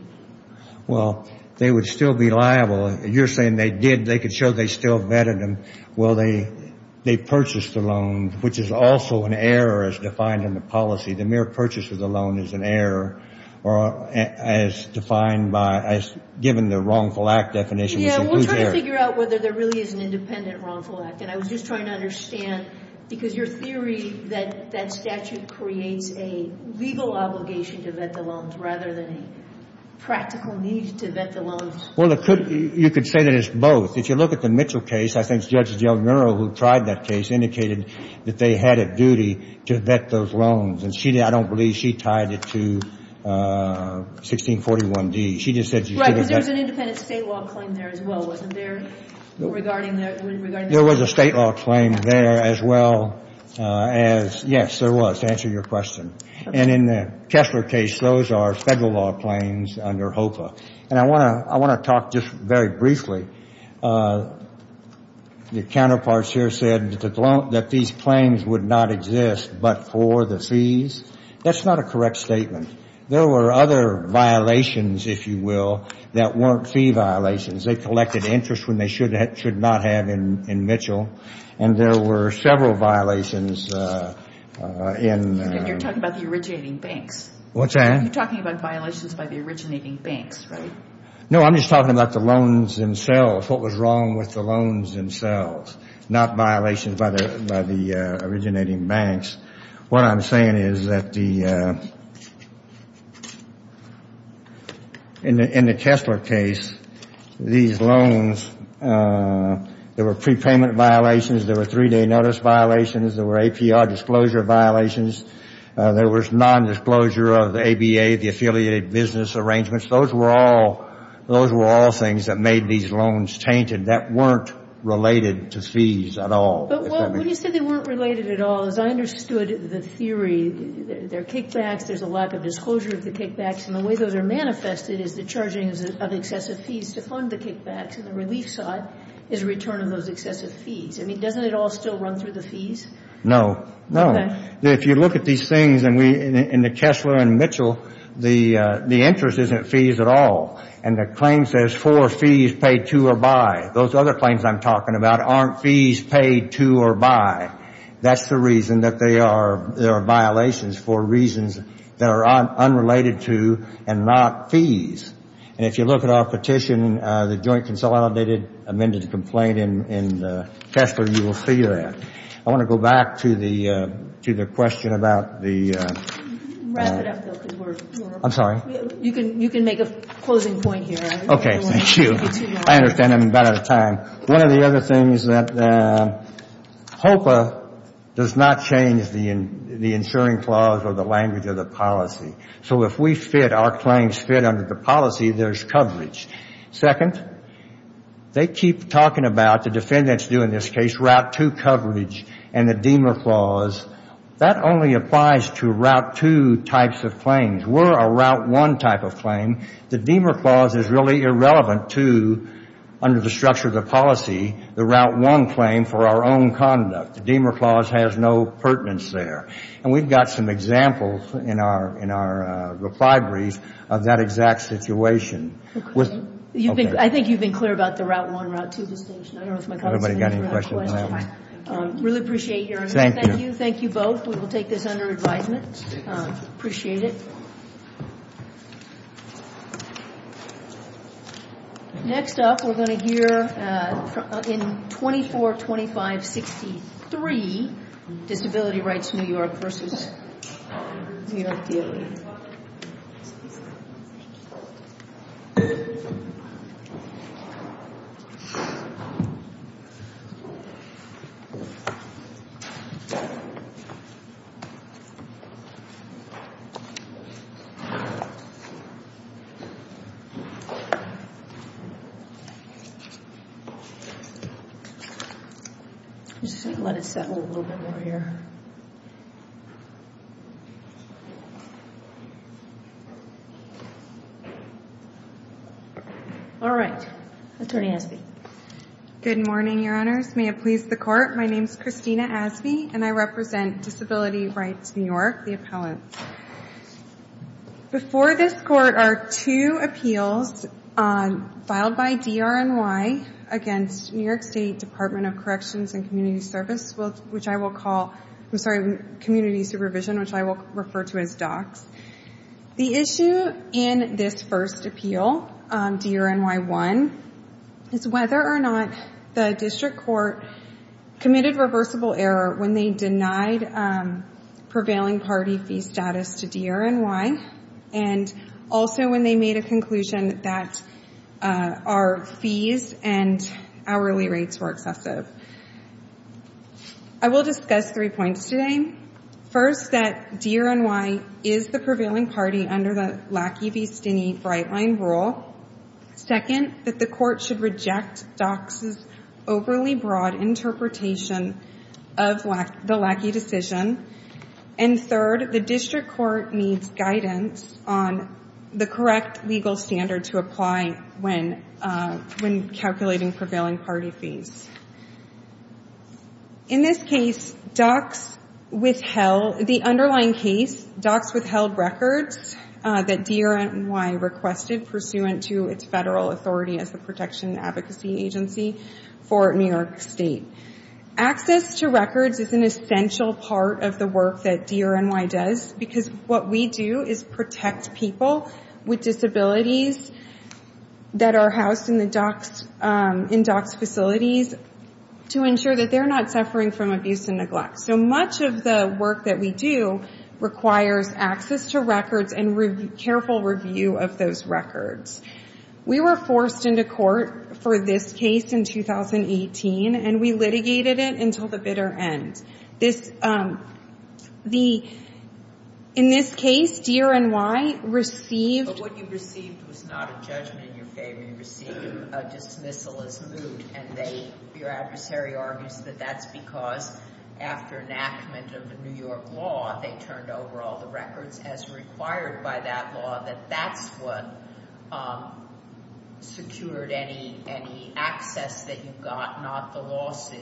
Well, they would still be liable. You're saying they did, they could show they still vetted them. Well, they purchased the loan, which is also an error as defined in the policy. The mere purchase of the loan is an error as defined by, as given the wrongful act definition. We're trying to figure out whether there really is an independent wrongful act. And I was just trying to understand, because your theory is that that statute creates a legal obligation to vet the loans rather than practical needs to vet the loans. Well, you could say that it's both. If you look at the Mitchell case, I think Judge Del Nero, who tried that case, indicated that they had a duty to vet those loans. I don't believe she tied it to 1641D. Right, but there's an independent state law claim there as well, wasn't there? There was a state law claim there as well as, yes, there was, to answer your question. And in the Kessler case, those are federal law claims under HOPA. And I want to talk just very briefly. Your counterparts here said that these claims would not exist but for the fees. That's not a correct statement. There were other violations, if you will, that weren't fee violations. They collected interest when they should not have in Mitchell. And there were several violations in… You're talking about the originating banks. What's that? You're talking about violations by the originating banks, right? No, I'm just talking about the loans themselves, what was wrong with the loans themselves, not violations by the originating banks. What I'm saying is that in the Kessler case, these loans, there were prepayment violations, there were three-day notice violations, there were APR disclosure violations, there was nondisclosure of the ABA, the Affiliated Business Arrangements. Those were all things that made these loans tainted that weren't related to fees at all. But when you said they weren't related at all, I understood the theory. There are kickbacks, there's a lack of disclosure of the kickbacks, and the way those are manifested is the charging of excessive fees to fund the kickbacks and the relief side is a return on those excessive fees. I mean, doesn't it all still run through the fees? No. No. If you look at these things in the Kessler and Mitchell, the interest isn't fees at all. And the claim says four fees paid to or by. Those other claims I'm talking about aren't fees paid to or by. That's the reason that there are violations for reasons that are unrelated to and not fees. And if you look at our petition, the joint consolidated amended complaint in Kessler, you will see that. I want to go back to the question about the... Wrap it up, Bill, because we're... I'm sorry? You can make a closing point here. Okay, thank you. I understand I'm about out of time. One of the other things that... HOPA does not change the insuring clause or the language of the policy. So if we fit, our claims fit under the policy, there's coverage. Second, they keep talking about, the defendants do in this case, Route 2 coverage and the Deamer clause. That only applies to Route 2 types of claims. We're a Route 1 type of claim. The Deamer clause is really irrelevant to, under the structure of the policy, the Route 1 claim for our own conduct. The Deamer clause has no pertinence there. And we've got some examples in our replied brief of that exact situation. I think you've been clear about the Route 1, Route 2 distinction. Anybody got any questions on that? Really appreciate your... Thank you. Thank you both. We will take this under advisement. Appreciate it. Next up, we're going to hear in 24-25-63, Disability Rights New York versus New York DLA. I'm just going to let it settle a little bit more here. All right. Attorney Asbee. Good morning, Your Honors. May it please the Court. My name is Christina Asbee, and I represent Disability Rights New York, the appellant. Before this Court are two appeals filed by DRNY against New York State Department of Corrections and Community Service, which I will call... I'm sorry, Community Supervision, which I will refer to as DOCS. The issue in this first appeal, DRNY 1, is whether or not the district court committed reversible error when they denied prevailing party fee status to DRNY, and also when they made a conclusion that our fees and hourly rates were excessive. I will discuss three points today. First, that DRNY is the prevailing party under the Lackey v. Stinney bright line rule. Second, that the court should reject DOCS's overly broad interpretation of the Lackey decision. And third, the district court needs guidance on the correct legal standard to apply when calculating prevailing party fees. In this case, DOCS withheld... The underlying case, DOCS withheld records that DRNY requested pursuant to its federal authority as a protection advocacy agency for New York State. Access to records is an essential part of the work that DRNY does, because what we do is protect people with disabilities that are housed in DOCS facilities to ensure that they're not suffering from abuse and neglect. So much of the work that we do requires access to records and careful review of those records. We were forced into court for this case in 2018, and we litigated it until the bitter end. In this case, DRNY received... But what you received was not a judgment in your favor. You received a dismissal as moved. And your adversary argues that that's because after enactment of the New York law, they turned over all the records as required by that law, that that's what secured any access that you got, not the lawsuit.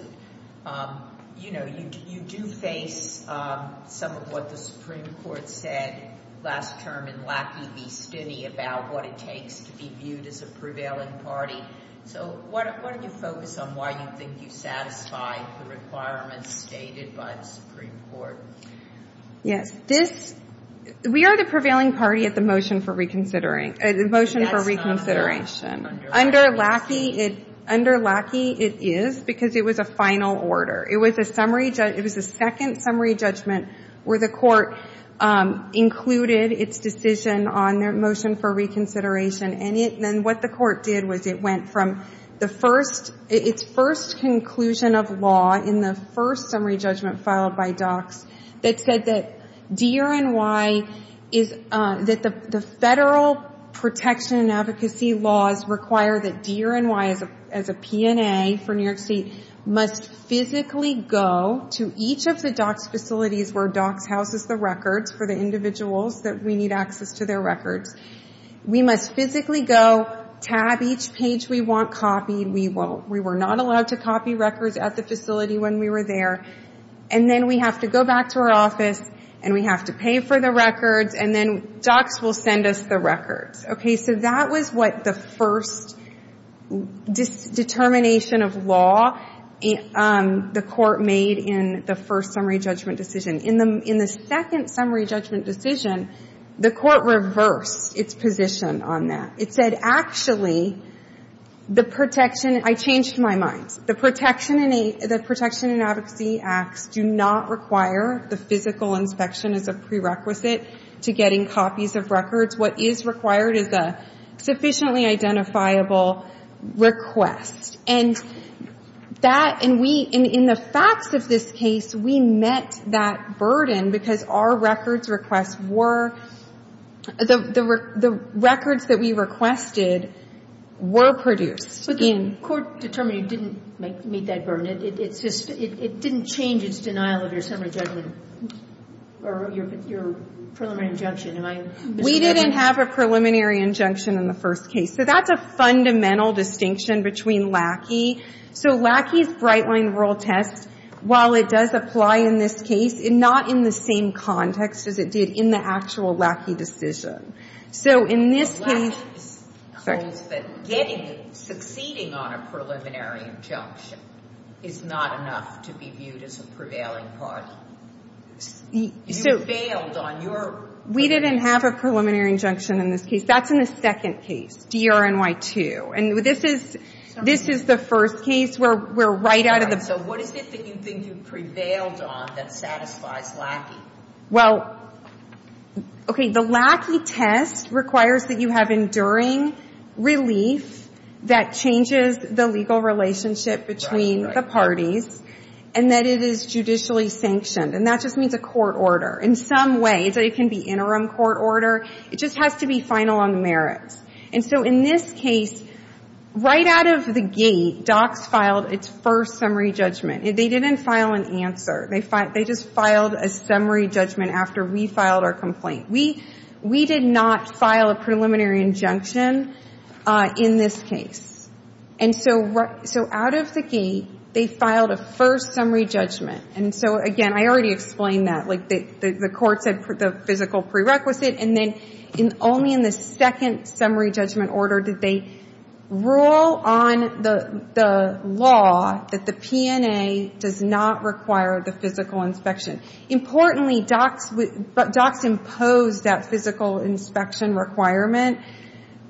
You know, you do say some of what the Supreme Court said last term in Lackey v. Stinney about what it takes to be viewed as a prevailing party. So why don't you focus on why you think you satisfy the requirements stated by the Supreme Court? Yes, this... We are the prevailing party at the motion for reconsideration. Under Lackey, it is, because it was a final order. It was a summary... It was a second summary judgment where the court included its decision on the motion for reconsideration. And what the court did was it went from its first conclusion of law in the first summary judgment filed by Dock that said that DRNY is... That the federal protection and advocacy laws require that DRNY as a P&A for New York State must physically go to each of the Dock facilities where Dock houses the records for the individuals that we need access to their records. We must physically go, tab each page we want copied. We were not allowed to copy records at the facility when we were there. And then we have to go back to our office and we have to pay for the records and then Dock will send us the records. Okay, so that was what the first determination of law the court made in the first summary judgment decision. In the second summary judgment decision, the court reversed its position on that. It said, actually, the protection... I changed my mind. The protection and advocacy act do not require the physical inspection as a prerequisite to getting copies of records. What is required is a sufficiently identifiable request. And in the facts of this case, we met that burden because our records requests were... The records that we requested were produced. But the court determination didn't meet that burden. It didn't change its denial of your summary judgment or your preliminary injunction. We didn't have a preliminary injunction in the first case. So that's a fundamental distinction between LACI. So LACI's Brightline Rural Test, while it does apply in this case, it's not in the same context as it did in the actual LACI decision. So in this case... Getting it, succeeding on a preliminary injunction, is not enough to be viewed as a prevailing party. You failed on your... We didn't have a preliminary injunction in this case. That's in the second case, DRNY2. And this is the first case where we're right out of the... So what is it that you think you've prevailed on that satisfies LACI? Well... Okay, the LACI test requires that you have enduring relief that changes the legal relationship between the parties, and that it is judicially sanctioned. And that just means a court order. In some ways, it can be interim court order. It just has to be final on merits. And so in this case, right out of the gate, DOCCS filed its first summary judgment. They didn't file an answer. They just filed a summary judgment after we filed our complaint. We did not file a preliminary injunction in this case. And so out of the gate, they filed a first summary judgment. And so, again, I already explained that. The court said the physical prerequisite, and then only in the second summary judgment order did they rule on the law that the P&A does not require the physical inspection. Importantly, DOCCS imposed that physical inspection requirement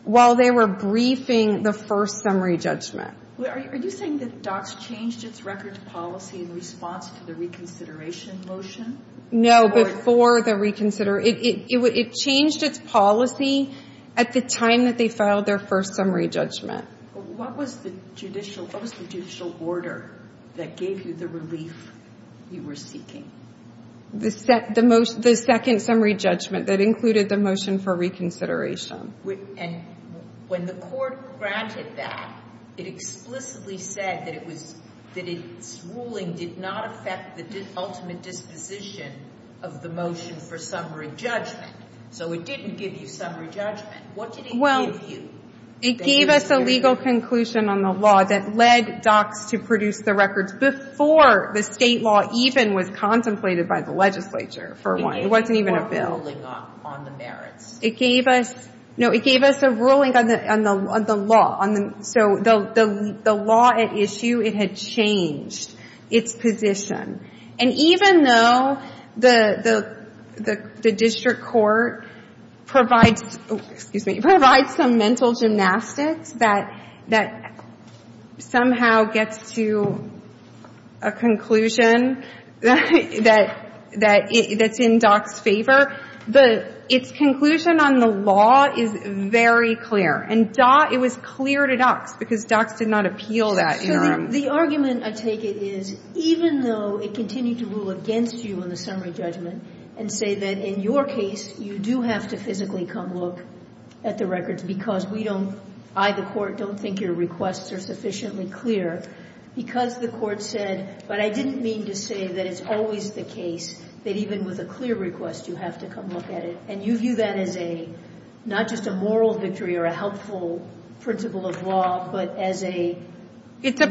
while they were briefing the first summary judgment. Are you saying that DOCCS changed its records policy in response to the reconsideration motion? No, before the reconsideration. It changed its policy at the time that they filed their first summary judgment. What was the judicial order that gave you the relief you were seeking? The second summary judgment that included the motion for reconsideration. And when the court granted that, it explicitly said that its ruling did not affect the ultimate disposition of the motion for summary judgment. So it didn't give you summary judgment. What did it give you? It gave us a legal conclusion on the law that led DOCCS to produce the records before the state law even was contemplated by the legislature for a while. It wasn't even a bill. It gave us a ruling on the merits. No, it gave us a ruling on the law. So the law at issue, it had changed its position. And even though the district court provides some mental gymnastics that somehow gets to a conclusion that's in DOCCS' favor, its conclusion on the law is very clear. And it was clear to DOCCS because DOCCS did not appeal that. The argument I take it is, even though it continued to rule against you on the summary judgment and say that in your case you do have to physically come look at the records because I, the court, don't think your requests are sufficiently clear, because the court said, but I didn't mean to say that it's always the case that even with a clear request you have to come look at it. And you view that as not just a moral victory or a helpful principle of law, but as a legal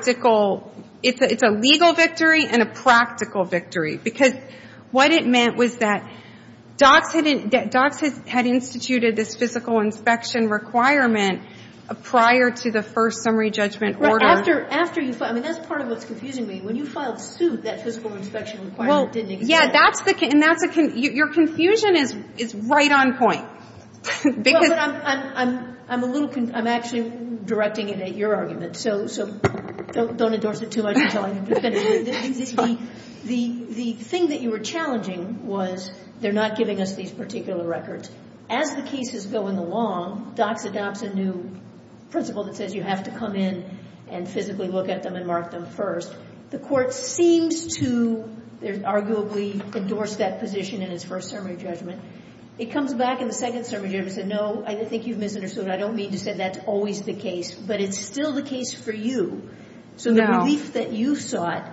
victory. It's a legal victory and a practical victory. Because what it meant was that DOCCS had instituted this physical inspection requirement prior to the first summary judgment order. After you filed, that's part of what's confusing me. When you filed suit, that physical inspection requirement didn't exist. Your confusion is right on point. I'm actually directing it at your argument, so don't endorse it too much until I defend it. The thing that you were challenging was they're not giving us these particular records. As the case is going along, DOCCS adopts a new principle that says you have to come in and physically look at them and mark them first. The court seems to, arguably, endorse that position in its first summary judgment. It comes back in the second summary judgment and says, no, I don't think you've misinterpreted it. I don't mean to say that's always the case, but it's still the case for you. So the relief that you sought,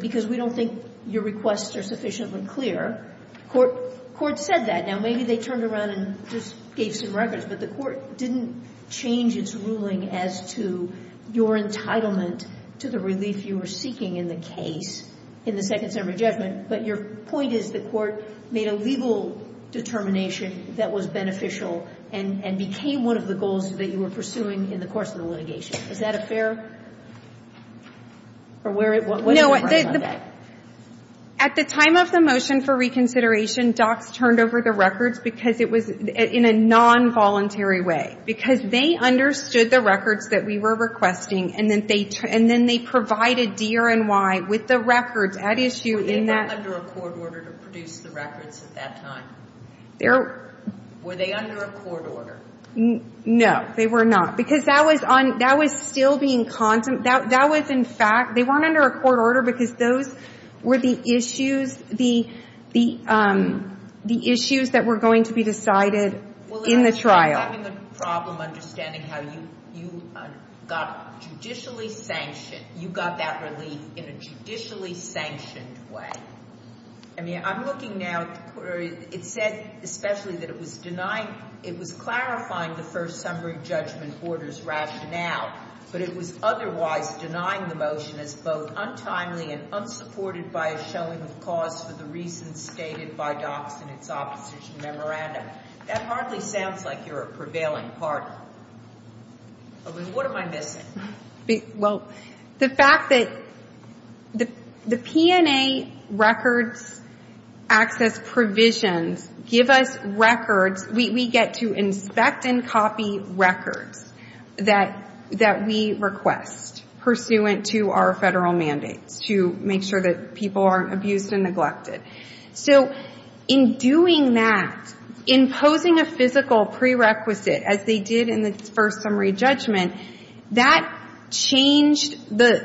because we don't think your requests are sufficiently clear, the court said that. Now, maybe they turned around and just gave some records, but the court didn't change its ruling as to your entitlement to the relief you were seeking in the case in the second summary judgment, but your point is the court made a legal determination that was beneficial and became one of the goals that you were pursuing in the course of the litigation. Is that fair? At the time of the motion for reconsideration, because it was in a nonvoluntary way. Because they understood the records that we were requesting, and then they provided DRNY with the records at issue. No, they were not. Because that was still being constant. That was, in fact, they weren't under a court order because those were the issues, the issues that were going to be decided in the trial. Well, you're having a problem understanding how you got judicially sanctioned. You got that relief in a judicially sanctioned way. I mean, I'm looking now, it said especially that it was denying, it was clarifying the first summary judgment order's rationale, but it was otherwise denying the motion as both untimely and unsupported by a showing of cause for the reasons stated by DOPS in its opposition memorandum. That hardly sounds like you're a prevailing party. What am I missing? Well, the fact that the P&A records access provisions give us records. We get to inspect and copy records that we request, pursuant to our federal mandate to make sure that people aren't abused and neglected. So in doing that, imposing a physical prerequisite, as they did in the first summary judgment, that changed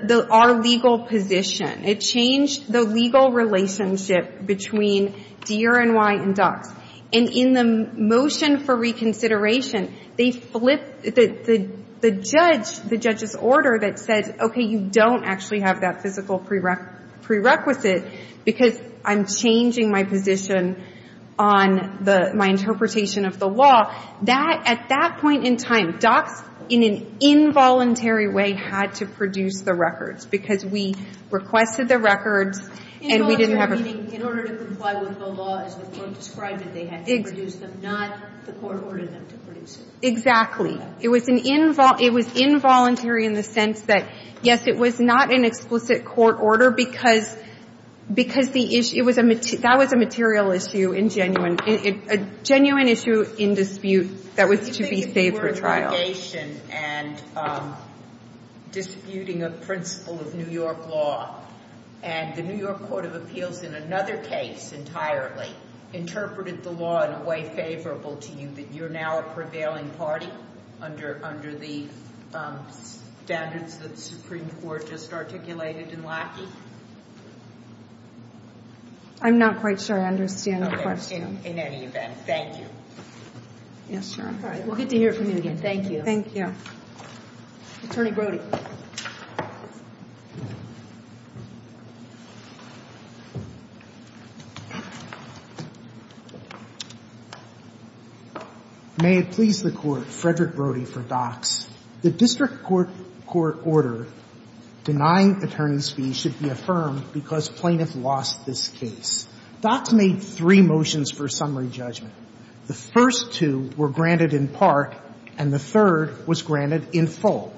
our legal position. It changed the legal relationship between DRNY and DOPS. And in the motion for reconsideration, they flipped the judge's order that said, okay, you don't actually have that physical prerequisite because I'm changing my position on my interpretation of the law. At that point in time, DOPS in an involuntary way had to produce the records because we requested the records and we didn't have a- In order to comply with the law as described, they had to produce them, not the court ordered them to produce them. Exactly. It was involuntary in the sense that, yes, it was not an explicit court order because that was a material issue, a genuine issue in dispute that was to be saved for trial. The litigation and disputing of principle of New York law and the New York Court of Appeals in another case entirely interpreted the law in a way favorable to you, that you're now a prevailing party under the standards that the Supreme Court just articulated in Laxey? I'm not quite sure I understand the question. In any event, thank you. We'll get to hear from you again. Thank you. Thank you. Attorney Brody. May it please the Court, Frederick Brody for DOPS. The district court order denying attorney's fees should be affirmed because plaintiff lost this case. DOPS made three motions for summary judgment. The first two were granted in part and the third was granted in full.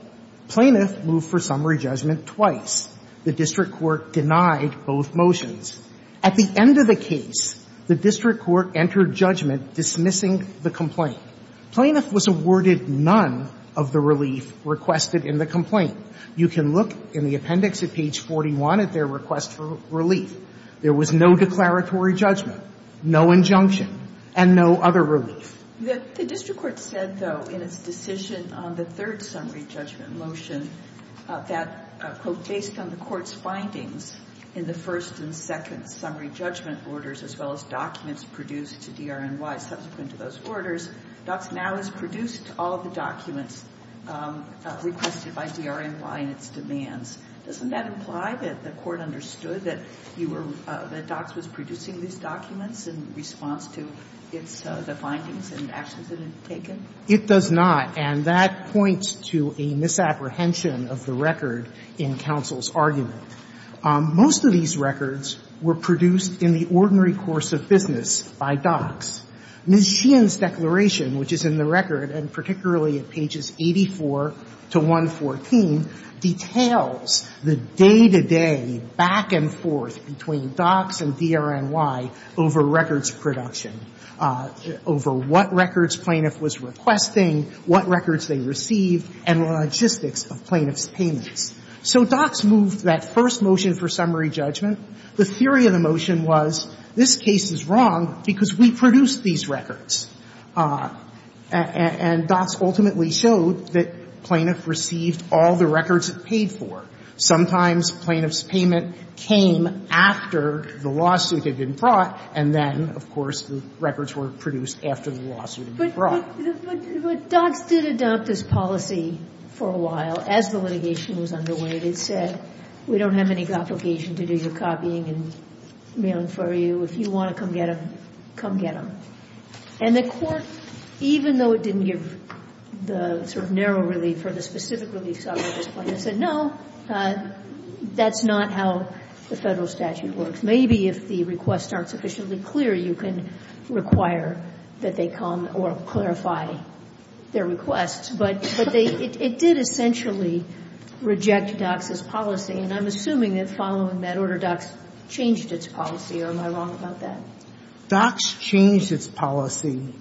Plaintiff moved for summary judgment twice. The district court denied both motions. At the end of the case, the district court entered judgment dismissing the complaint. Plaintiff was awarded none of the relief requested in the complaint. You can look in the appendix at page 41 at their request for relief. There was no declaratory judgment, no injunction. And no other relief. The district court said, though, in its decision on the third summary judgment motion, that based on the court's findings in the first and second summary judgment orders, as well as documents produced to DRNY subsequent to those orders, DOPS now has produced all the documents requested by DRNY and its demands. Doesn't that imply that the court understood that DOPS was producing these documents in response to the findings and actions it had taken? It does not. And that points to a misapprehension of the record in counsel's argument. Most of these records were produced in the ordinary course of business by DOPS. Nguyen's declaration, which is in the record, and particularly at pages 84 to 114, details the day-to-day back-and-forth between DOPS and DRNY over records production, over what records plaintiff was requesting, what records they received, and the logistics of plaintiff's payment. So DOPS moved that first motion for summary judgment. The theory of the motion was, this case is wrong because we produced these records. And DOPS ultimately showed that plaintiff received all the records it paid for. Sometimes plaintiff's payment came after the lawsuit had been brought, and then, of course, the records were produced after the lawsuit was brought. But DOPS did adopt this policy for a while as the litigation was underway. And it said, we don't have any complication to do your copying and mailing for you. If you want to come get them, come get them. And the court, even though it didn't give the sort of narrow relief or the specific relief subpoena, said no, that's not how the federal statute works. Maybe if the requests aren't sufficiently clear, you can require that they come or clarify their requests. But it did essentially reject DOPS's policy. And I'm assuming that following that order, DOPS changed its policy. Or am I wrong about that? DOPS changed its policy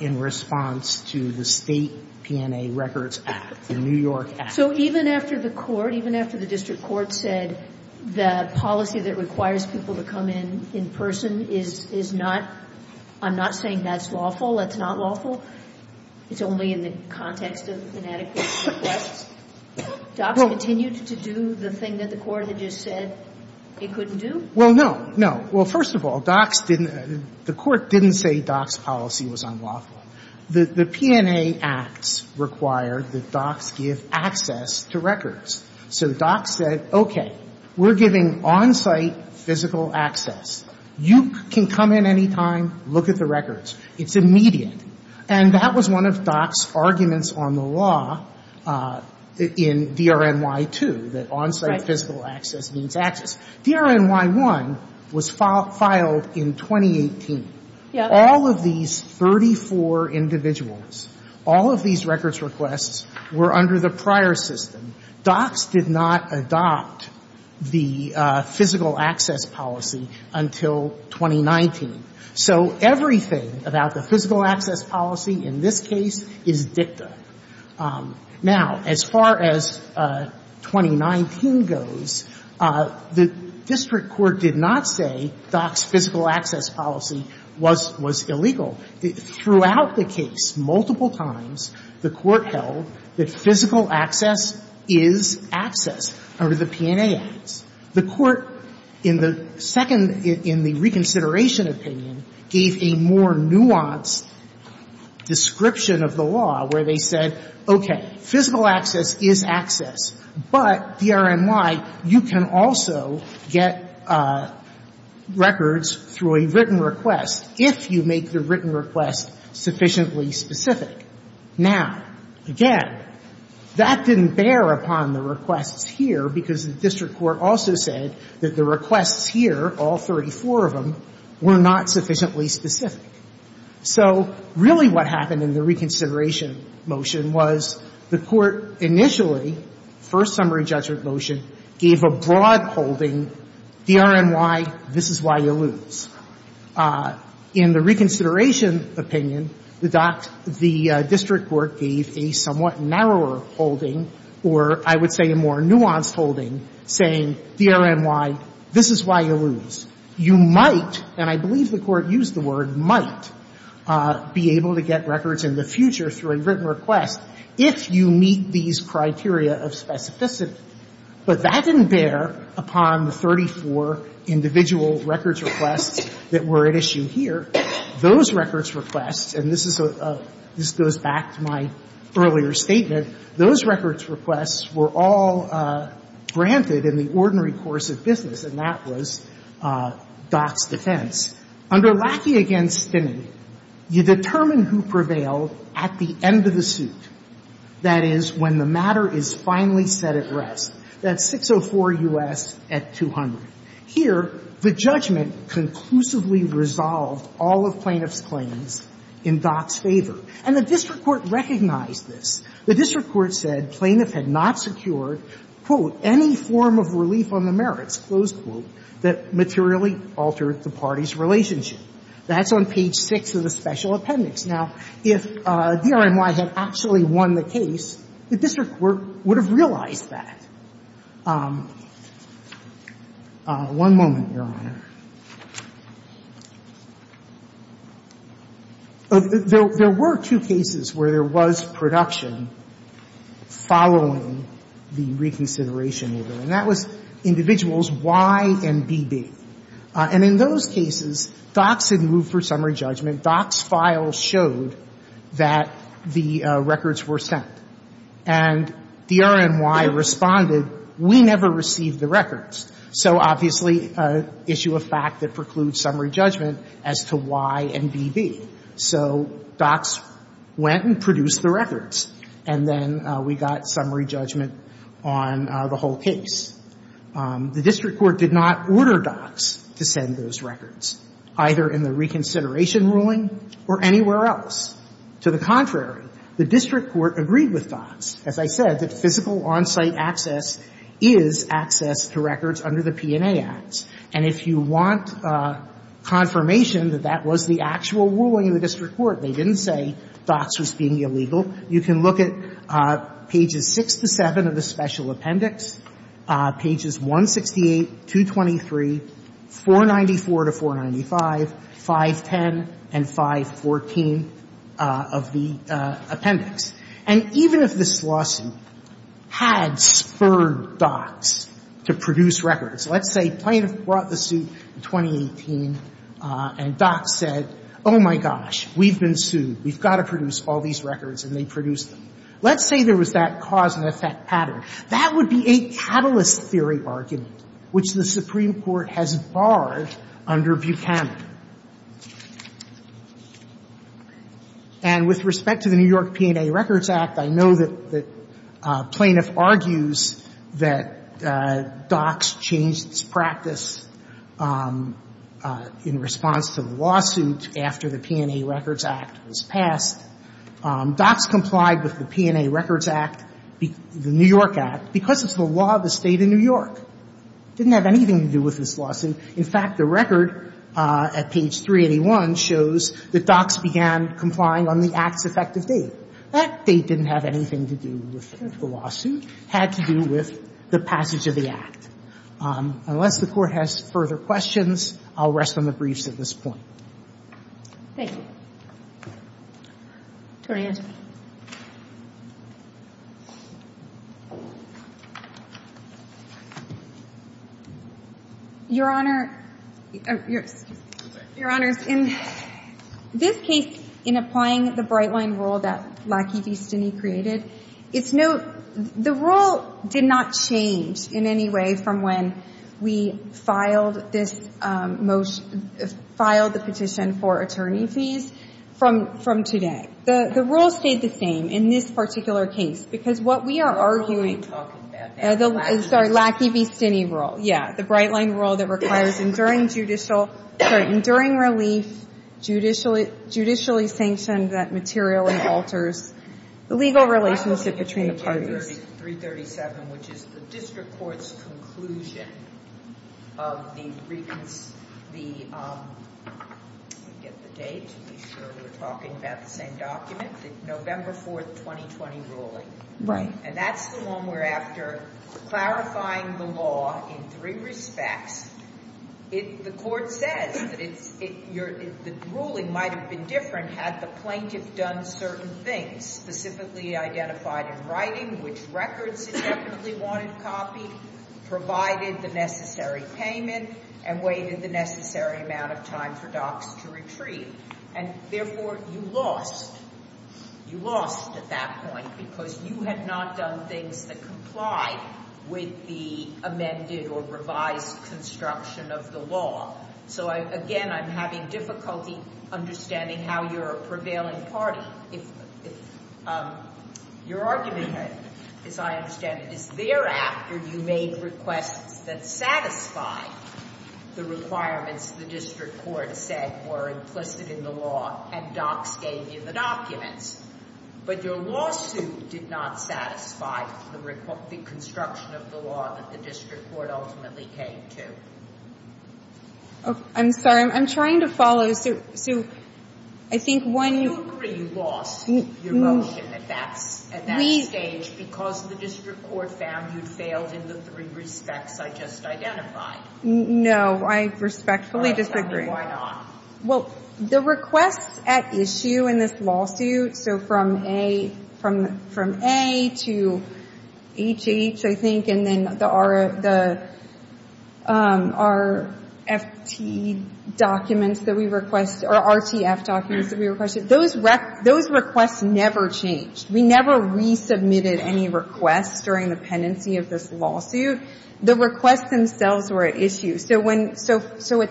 in response to the state PNA records in New York. So even after the court, even after the district court said, the policy that requires people to come in in person is not, I'm not saying that's lawful, that's not lawful. It's only in the context of inadequate requests. DOPS continues to do the thing that the court had just said it couldn't do? Well, no, no. Well, first of all, DOPS didn't, the court didn't say DOPS's policy was unlawful. The PNA acts require that DOPS give access to records. So DOPS said, okay, we're giving on-site physical access. You can come in any time, look at the records. It's immediate. And that was one of DOPS's arguments on the law in DRNY2, that on-site physical access means access. DRNY1 was filed in 2018. All of these 34 individuals, all of these records requests were under the prior system. DOPS did not adopt the physical access policy until 2019. So everything about the physical access policy in this case is dicta. Now, as far as 2019 goes, the district court did not say DOPS's physical access policy was illegal. Throughout the case, multiple times, the court held that physical access is access under the PNA acts. The court in the second, in the reconsideration opinion, gave a more nuanced description of the law where they said, okay, physical access is access, but DRNY, you can also get records through a written request if you make the written request sufficiently specific. Now, again, that didn't bear upon the requests here because the district court also said that the requests here, all 34 of them, were not sufficiently specific. So really what happened in the reconsideration motion was the court initially, first summary judgment motion, gave a broad holding DRNY, this is why you lose. In the reconsideration opinion, the district court gave a somewhat narrower holding or I would say a more nuanced holding saying DRNY, this is why you lose. You might, and I believe the court used the word might, be able to get records in the future through a written request if you meet these criteria of specificity. But that didn't bear upon the 34 individual records requests that were at issue here. Those records requests, and this goes back to my earlier statement, those records requests were all granted in the ordinary course of business and that was Dock's defense. Under Lackey against Finney, you determine who prevailed at the end of the suit. That is, when the matter is finally set at rest. That's 604 U.S. at 200. Here, the judgment conclusively resolves all of plaintiff's claims in Dock's favor. And the district court recognized this. The district court said plaintiff had not secured, quote, any form of relief on the merits, close quote, that materially altered the party's relationship. That's on page six of the special appendix. Now, if DRNY had actually won the case, the district court would have realized that. One moment, Your Honor. One moment, Your Honor. There were two cases where there was production following the reconsideration. And that was individuals Y and BB. And in those cases, Dock's had moved for summary judgment. Dock's file showed that the records were sent. And DRNY responded, we never received the records. So, obviously, issue of fact that precludes summary judgment as to Y and BB. So, Dock's went and produced the records. And then we got summary judgment on the whole case. The district court did not order Dock's to send those records, either in the reconsideration ruling or anywhere else. To the contrary, the district court agreed with Dock's. As I said, the physical on-site access is access to records under the P&A Act. And if you want confirmation that that was the actual ruling of the district court, they didn't say Dock's was being illegal, you can look at pages six to seven of the special appendix, pages 168, 223, 494 to 495, 510, and 514 of the appendix. And even if this lawsuit had spurred Dock's to produce records, let's say plaintiff brought the suit in 2018, and Dock's said, oh my gosh, we've been sued. We've got to produce all these records, and they produced them. Let's say there was that cause and effect pattern. That would be a catalyst theory bargain, which the Supreme Court has barred under Buchanan. And with respect to the New York P&A Records Act, I know that plaintiff argues that Dock's changed its practice in response to the lawsuit after the P&A Records Act was passed. Dock's complied with the P&A Records Act, the New York Act, because it's the law of the state of New York. It didn't have anything to do with this lawsuit. In fact, the record at page 381 shows that Dock's began complying on the act's effective date. That date didn't have anything to do with the lawsuit. It had to do with the passage of the act. Unless the Court has further questions, I'll rest on the briefs at this point. Thank you. Your Honor, in this case, in applying the bright-line rule that Lackey v. Stinney created, the rule did not change in any way from when we filed the petition for attorney fees from today. The rule stayed the same in this particular case, because what we are arguing is the Lackey v. Stinney rule, the bright-line rule that requires enduring release, judicially sanctions that materially alters the legal relationship between parties. 337, which is the district court's conclusion of the recent, the, let me get the date to be sure we're talking about the same document, the November 4th, 2020 ruling. And that's the one where after clarifying the law in three respects, the Court said that the ruling might have been different had the plaintiff done certain things, specifically identified in writing which records it definitely wanted copied, provided the necessary payment, and waited the necessary amount of time for doctors to retrieve. And therefore, you lost. You lost at that point because you had not done things that complied with the amended or revised construction of the law. So, again, I'm having difficulty understanding how you're a prevailing party. Your argument, as I understand it, is thereafter you made requests that satisfied the requirements the district court said were implicit in the law, and docs gave you the documents. But your lawsuit did not satisfy the construction of the law that the district court ultimately came to. I'm sorry, I'm trying to follow through. I think one... You lost your motion at that stage because the district court found you failed in the three respects I just identified. No, I respectfully disagree. Why not? Well, the requests at issue in this lawsuit, so from A to HH, I think, and then the RFP documents that we requested, or RTF documents that we requested, those requests never changed. We never resubmitted any requests during the pendency of this lawsuit. The requests themselves were at issue. So at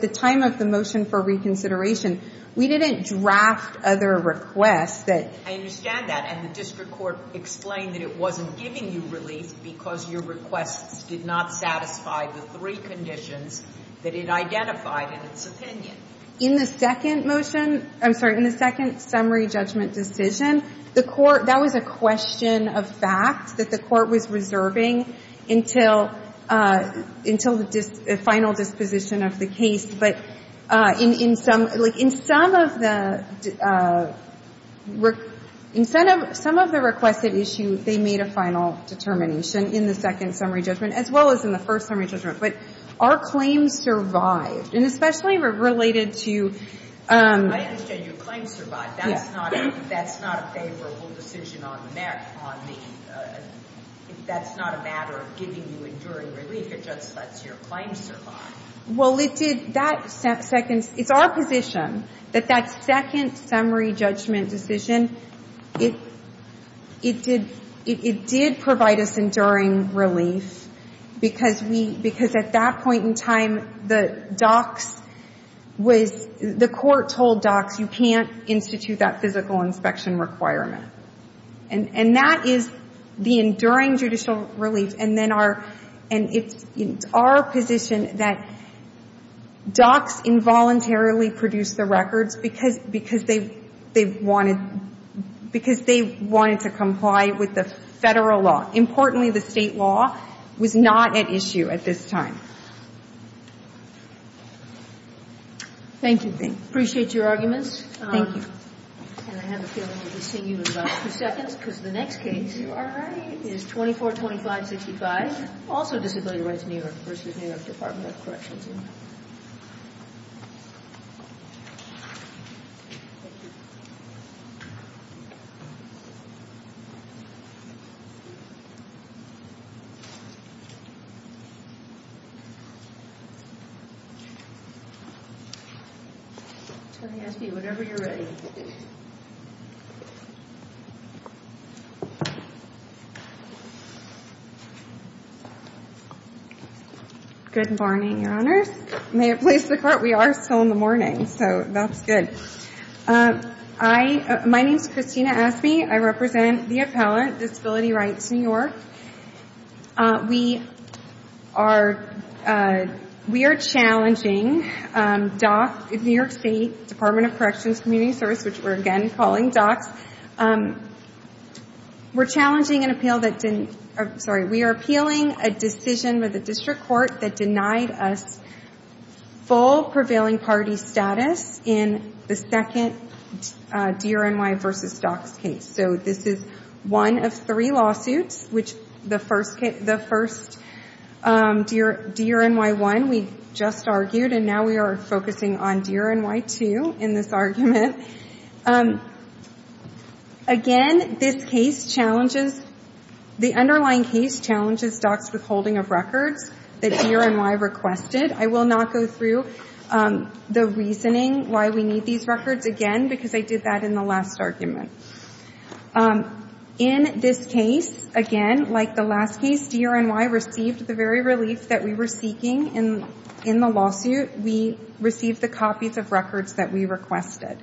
the time of the motion for reconsideration, we didn't draft other requests. I understand that, and the district court explained that it wasn't giving you relief because your request did not satisfy the three conditions that it identified in its opinion. In the second motion, I'm sorry, in the second summary judgment decision, that was a question of facts that the court was reserving until the final disposition of the case. But in some of the requested issues, they made a final determination in the second summary judgment as well as in the first summary judgment. But our claims survived, and especially related to... I understand your claims survived. That's not a favorable decision on merit. That's not a matter of giving you enduring relief. It just lets your claims survive. Well, it did. It's our position that that second summary judgment decision, it did provide us enduring relief because at that point in time, the court told DOCS, you can't institute that physical inspection requirement. And that is the enduring judicial relief. And it's our position that DOCS involuntarily produced the records because they wanted to comply with the federal law, importantly the state law, was not at issue at this time. Thank you. Appreciate your argument. Thank you. And I have a feeling we'll continue in about two seconds because the next case is 2425-65, also the Familial Rights New York v. New York Department of Corrections. Good morning, Your Honor. We are still in the morning, so that's good. My name is Christina Aspey. I represent the appellant, Disability Rights New York, We are challenging DOCS, New York State Department of Corrections Community Service, which we're again calling DOCS, we're challenging an appeal that's in, sorry, we are appealing a decision with the district court that denied us full prevailing party status in the second DRNY v. DOCS case. So this is one of three lawsuits, which the first DRNY 1 we just argued, and now we are focusing on DRNY 2 in this argument. Again, this case challenges, the underlying case challenges DOCS's holding of records that DRNY requested. I will not go through the reasoning why we need these records again because I did that in the last argument. In this case, again, like the last case, DRNY received the very release that we were seeking in the lawsuit, we received the copies of records that we requested.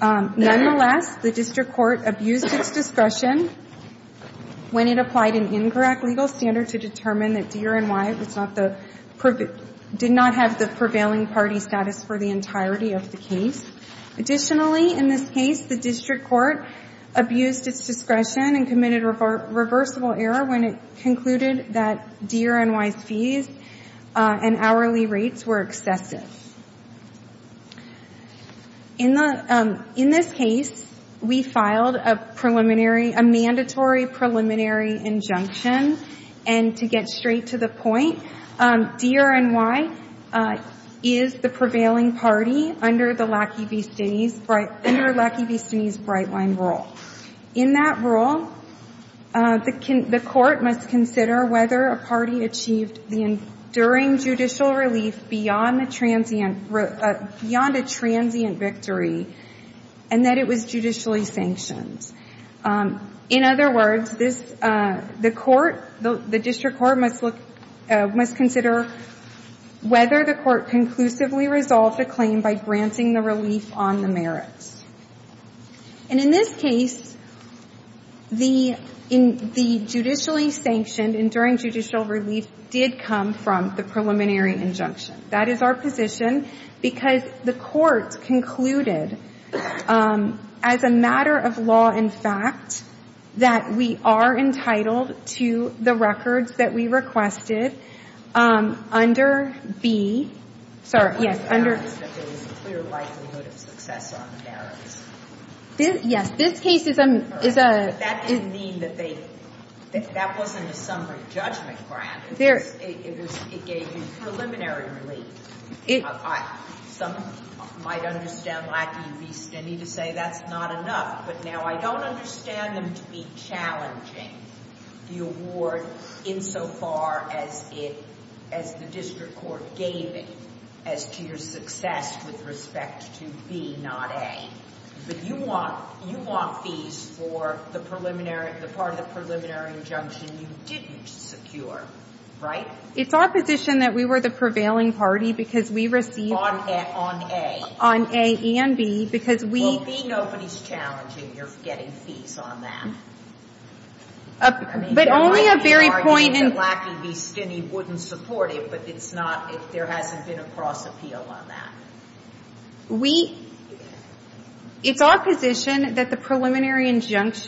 Nonetheless, the district court abused its discussion when it applied an incorrect legal standard to determine that DRNY did not have the prevailing party status for the entirety of the case. Additionally, in this case, the district court abused its discretion and committed a reversible error when it concluded that DRNY fees and hourly rates were accepted. In this case, we filed a mandatory preliminary injunction, and to get straight to the point, DRNY is the prevailing party under the LACI BC's bright line rule. In that rule, the court must consider whether a party achieved during judicial release beyond a transient victory and that it was judicially sanctioned. In other words, the district court must consider whether the court conclusively resolved the claim by granting the relief on the merit. In this case, the judicially sanctioned and during judicial release did come from the preliminary injunction. That is our position because the court concluded as a matter of law and fact, that we are entitled to the records that we requested under the... Yes, this case is... That didn't mean that they... That wasn't a summary judgment perhaps. It gave you preliminary relief. Some might understand LACI relief. I need to say that's not enough, but now I don't understand them to be challenging the award insofar as the district court gave it as to your success with respect to B, not A. But you want fees for the part of the preliminary injunction you didn't secure, right? It's our position that we were the prevailing party because we received... On A. On A and B because we... Well, B, nobody's challenging you're getting fees on that. But only a very point... LACI wouldn't support it, but it's not... There hasn't been a cross appeal on that. It's our position that the preliminary injunction...